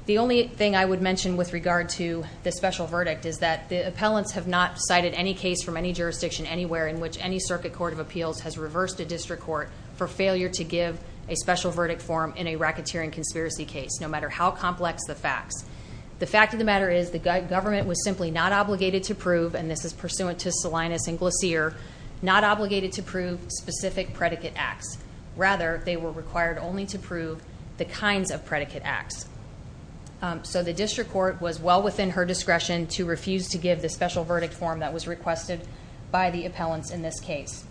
The only thing I would mention with regard to the special verdict is that the appellants have not cited any case from any jurisdiction anywhere in which any circuit court of appeals has reversed a district court for failure to give a special verdict form in a racketeering conspiracy case, no matter how complex the facts. The fact of the matter is the government was simply not obligated to prove, and this is pursuant to Salinas and Glacier, not obligated to prove specific predicate acts. Rather, they were required only to prove the kinds of predicate acts. So the district court was well within her discretion to refuse to give the special verdict form that was requested by the appellants in this case.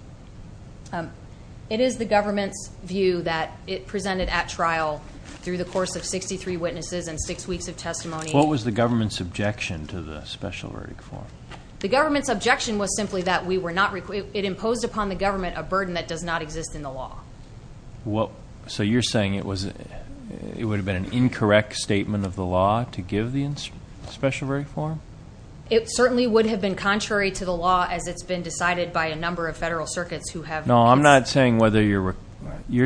It is the government's view that it presented at trial through the course of 63 witnesses and six weeks of testimony. What was the government's objection to the special verdict form? The government's objection was simply that it imposed upon the government a burden that does not exist in the law. So you're saying it would have been an incorrect statement of the law to give the special verdict form? It certainly would have been contrary to the law as it's been decided by a number of federal circuits who have- No, I'm not saying whether you're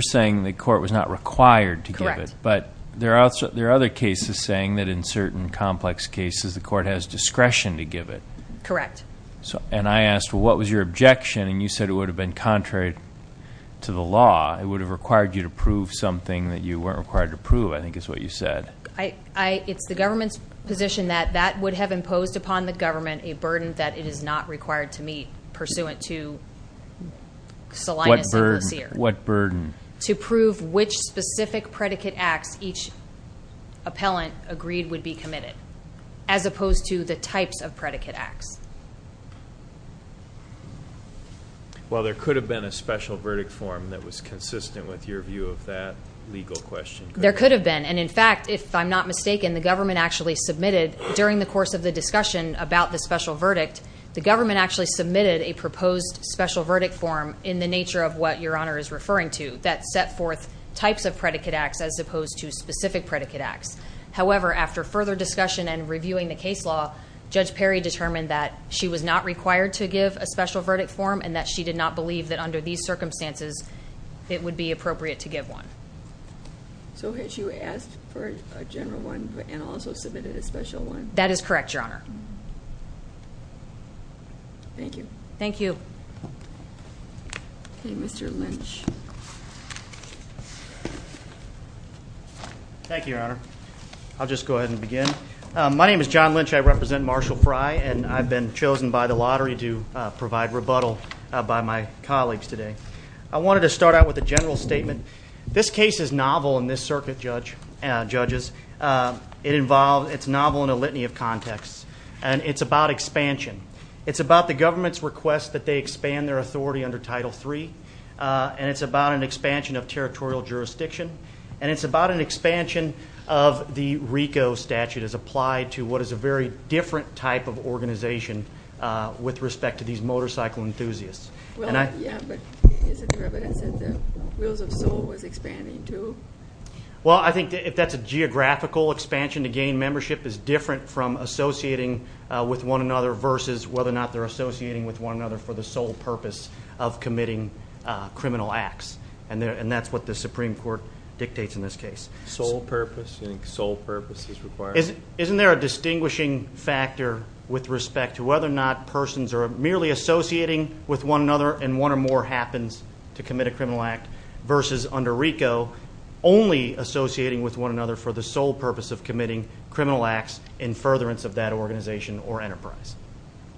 saying the court was not required to give it. But there are other cases saying that in certain complex cases the court has discretion to give it. Correct. And I asked, well, what was your objection? And you said it would have been contrary to the law. It would have required you to prove something that you weren't required to prove, I think is what you said. It's the government's position that that would have imposed upon the government a burden that it is not required to meet pursuant to Salinas and Glacier. What burden? To prove which specific predicate acts each appellant agreed would be committed, as opposed to the types of predicate acts. Well, there could have been a special verdict form that was consistent with your view of that legal question. There could have been. And in fact, if I'm not mistaken, the government actually submitted during the course of the discussion about the special verdict, the government actually submitted a proposed special verdict form in the nature of what your honor is referring to. That set forth types of predicate acts as opposed to specific predicate acts. However, after further discussion and reviewing the case law, Judge Perry determined that she was not required to give a special verdict form and that she did not believe that under these circumstances it would be appropriate to give one. So had you asked for a general one and also submitted a special one? That is correct, your honor. Thank you. Thank you. Okay, Mr. Lynch. Thank you, your honor. I'll just go ahead and begin. My name is John Lynch, I represent Marshall Fry, and I've been chosen by the lottery to provide rebuttal by my colleagues today. I wanted to start out with a general statement. This case is novel in this circuit, judges. It's novel in a litany of contexts. And it's about expansion. It's about the government's request that they expand their authority under Title III. And it's about an expansion of territorial jurisdiction. And it's about an expansion of the RICO statute as applied to what is a very different type of organization with respect to these motorcycle enthusiasts. Well, yeah, but isn't there evidence that the Wheels of Soul was expanding too? Well, I think if that's a geographical expansion, again, membership is different from associating with one another versus whether or not they're associating with one another for the sole purpose of committing criminal acts. And that's what the Supreme Court dictates in this case. Sole purpose, you think sole purpose is required? Isn't there a distinguishing factor with respect to whether or not persons are merely associating with one another and one or more happens to commit a criminal act versus under RICO only associating with one another for the sole purpose of committing criminal acts in furtherance of that organization or enterprise.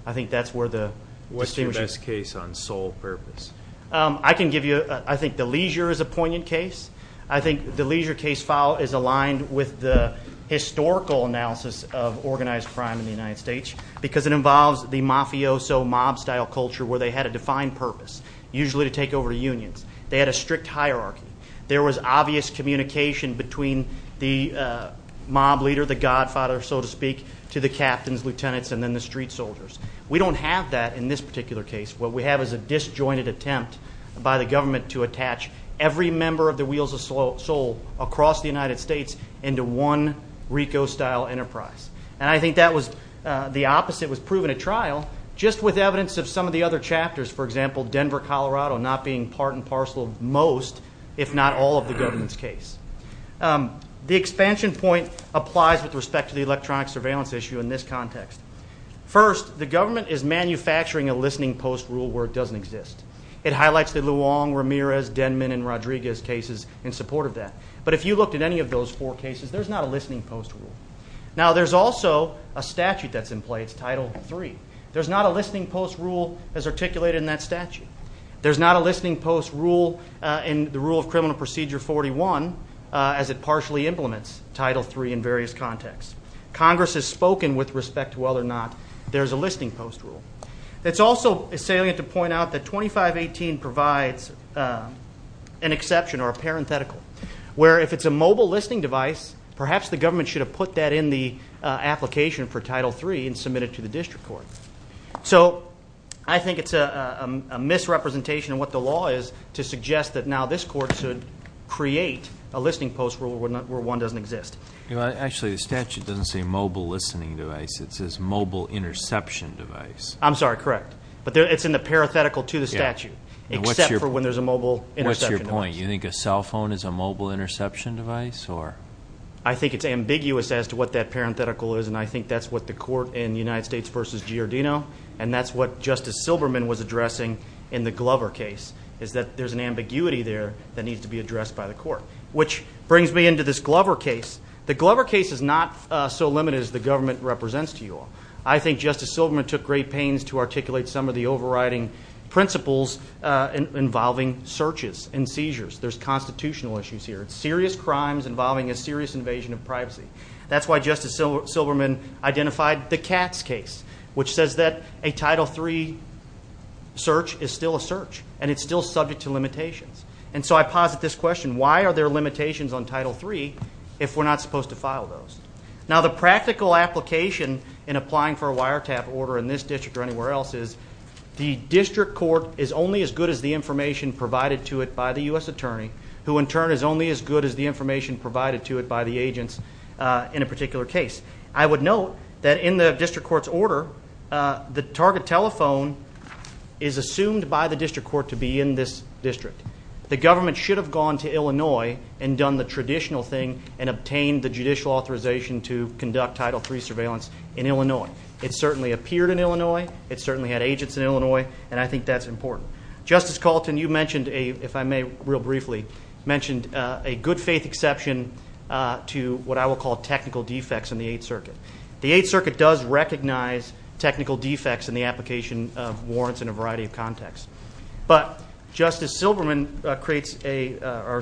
I think that's where the- What's your best case on sole purpose? I can give you, I think the Leisure is a poignant case. I think the Leisure case file is aligned with the historical analysis of organized crime in the United States. Because it involves the mafioso mob style culture where they had a defined purpose, usually to take over unions. They had a strict hierarchy. There was obvious communication between the mob leader, the godfather, so to speak, to the captains, lieutenants, and then the street soldiers. We don't have that in this particular case. What we have is a disjointed attempt by the government to attach every member of the Wheels of Soul across the United States into one RICO style enterprise. And I think that was the opposite was proven at trial, just with evidence of some of the other chapters. For example, Denver, Colorado, not being part and parcel of most, if not all of the government's case. The expansion point applies with respect to the electronic surveillance issue in this context. First, the government is manufacturing a listening post rule where it doesn't exist. It highlights the Luong, Ramirez, Denman, and Rodriguez cases in support of that. But if you looked at any of those four cases, there's not a listening post rule. Now, there's also a statute that's in place, Title III. There's not a listening post rule as articulated in that statute. There's not a listening post rule in the Rule of Criminal Procedure 41 as it partially implements Title III in various contexts. Congress has spoken with respect to whether or not there's a listening post rule. It's also salient to point out that 2518 provides an exception or a parenthetical. Where if it's a mobile listening device, perhaps the government should have put that in the application for Title III and submit it to the district court. So I think it's a misrepresentation of what the law is to suggest that now this court should create a listening post rule where one doesn't exist. Actually, the statute doesn't say mobile listening device, it says mobile interception device. I'm sorry, correct. But it's in the parenthetical to the statute, except for when there's a mobile interception device. What's your point? Do you think a cell phone is a mobile interception device or? I think it's ambiguous as to what that parenthetical is, and I think that's what the court in United States versus Giordino. And that's what Justice Silberman was addressing in the Glover case, is that there's an ambiguity there that needs to be addressed by the court. Which brings me into this Glover case. The Glover case is not so limited as the government represents to you all. I think Justice Silberman took great pains to articulate some of the overriding principles involving searches and seizures. There's constitutional issues here. Serious crimes involving a serious invasion of privacy. That's why Justice Silberman identified the Katz case, which says that a Title III search is still a search, and it's still subject to limitations. And so I posit this question, why are there limitations on Title III if we're not supposed to file those? Now the practical application in applying for a wiretap order in this district or anywhere else is the district court is only as good as the information provided to it by the US attorney, who in turn is only as good as the information provided to it by the agents in a particular case. I would note that in the district court's order, the target telephone is assumed by the district court to be in this district. The government should have gone to Illinois and done the traditional thing and obtained the judicial authorization to conduct Title III surveillance in Illinois. It certainly appeared in Illinois, it certainly had agents in Illinois, and I think that's important. Justice Calton, you mentioned, if I may real briefly, mentioned a good faith exception to what I will call technical defects in the Eighth Circuit. The Eighth Circuit does recognize technical defects in the application of warrants in a variety of contexts. But Justice Silberman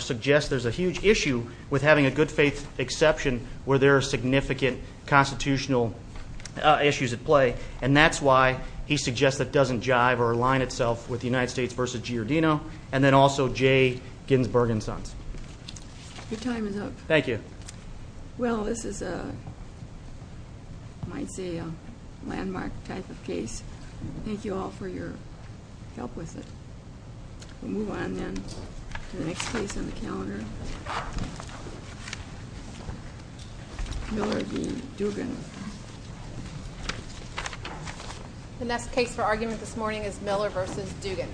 suggests there's a huge issue with having a good faith exception where there are significant constitutional issues at play. And that's why he suggests it doesn't jive or align itself with the United States versus Giordino, and then also Jay Ginsburg and Sons. Your time is up. Thank you. Well, this is, I might say, a landmark type of case. Thank you all for your help with it. We'll move on then to the next case on the calendar. Miller v. Dugan. The next case for argument this morning is Miller versus Dugan.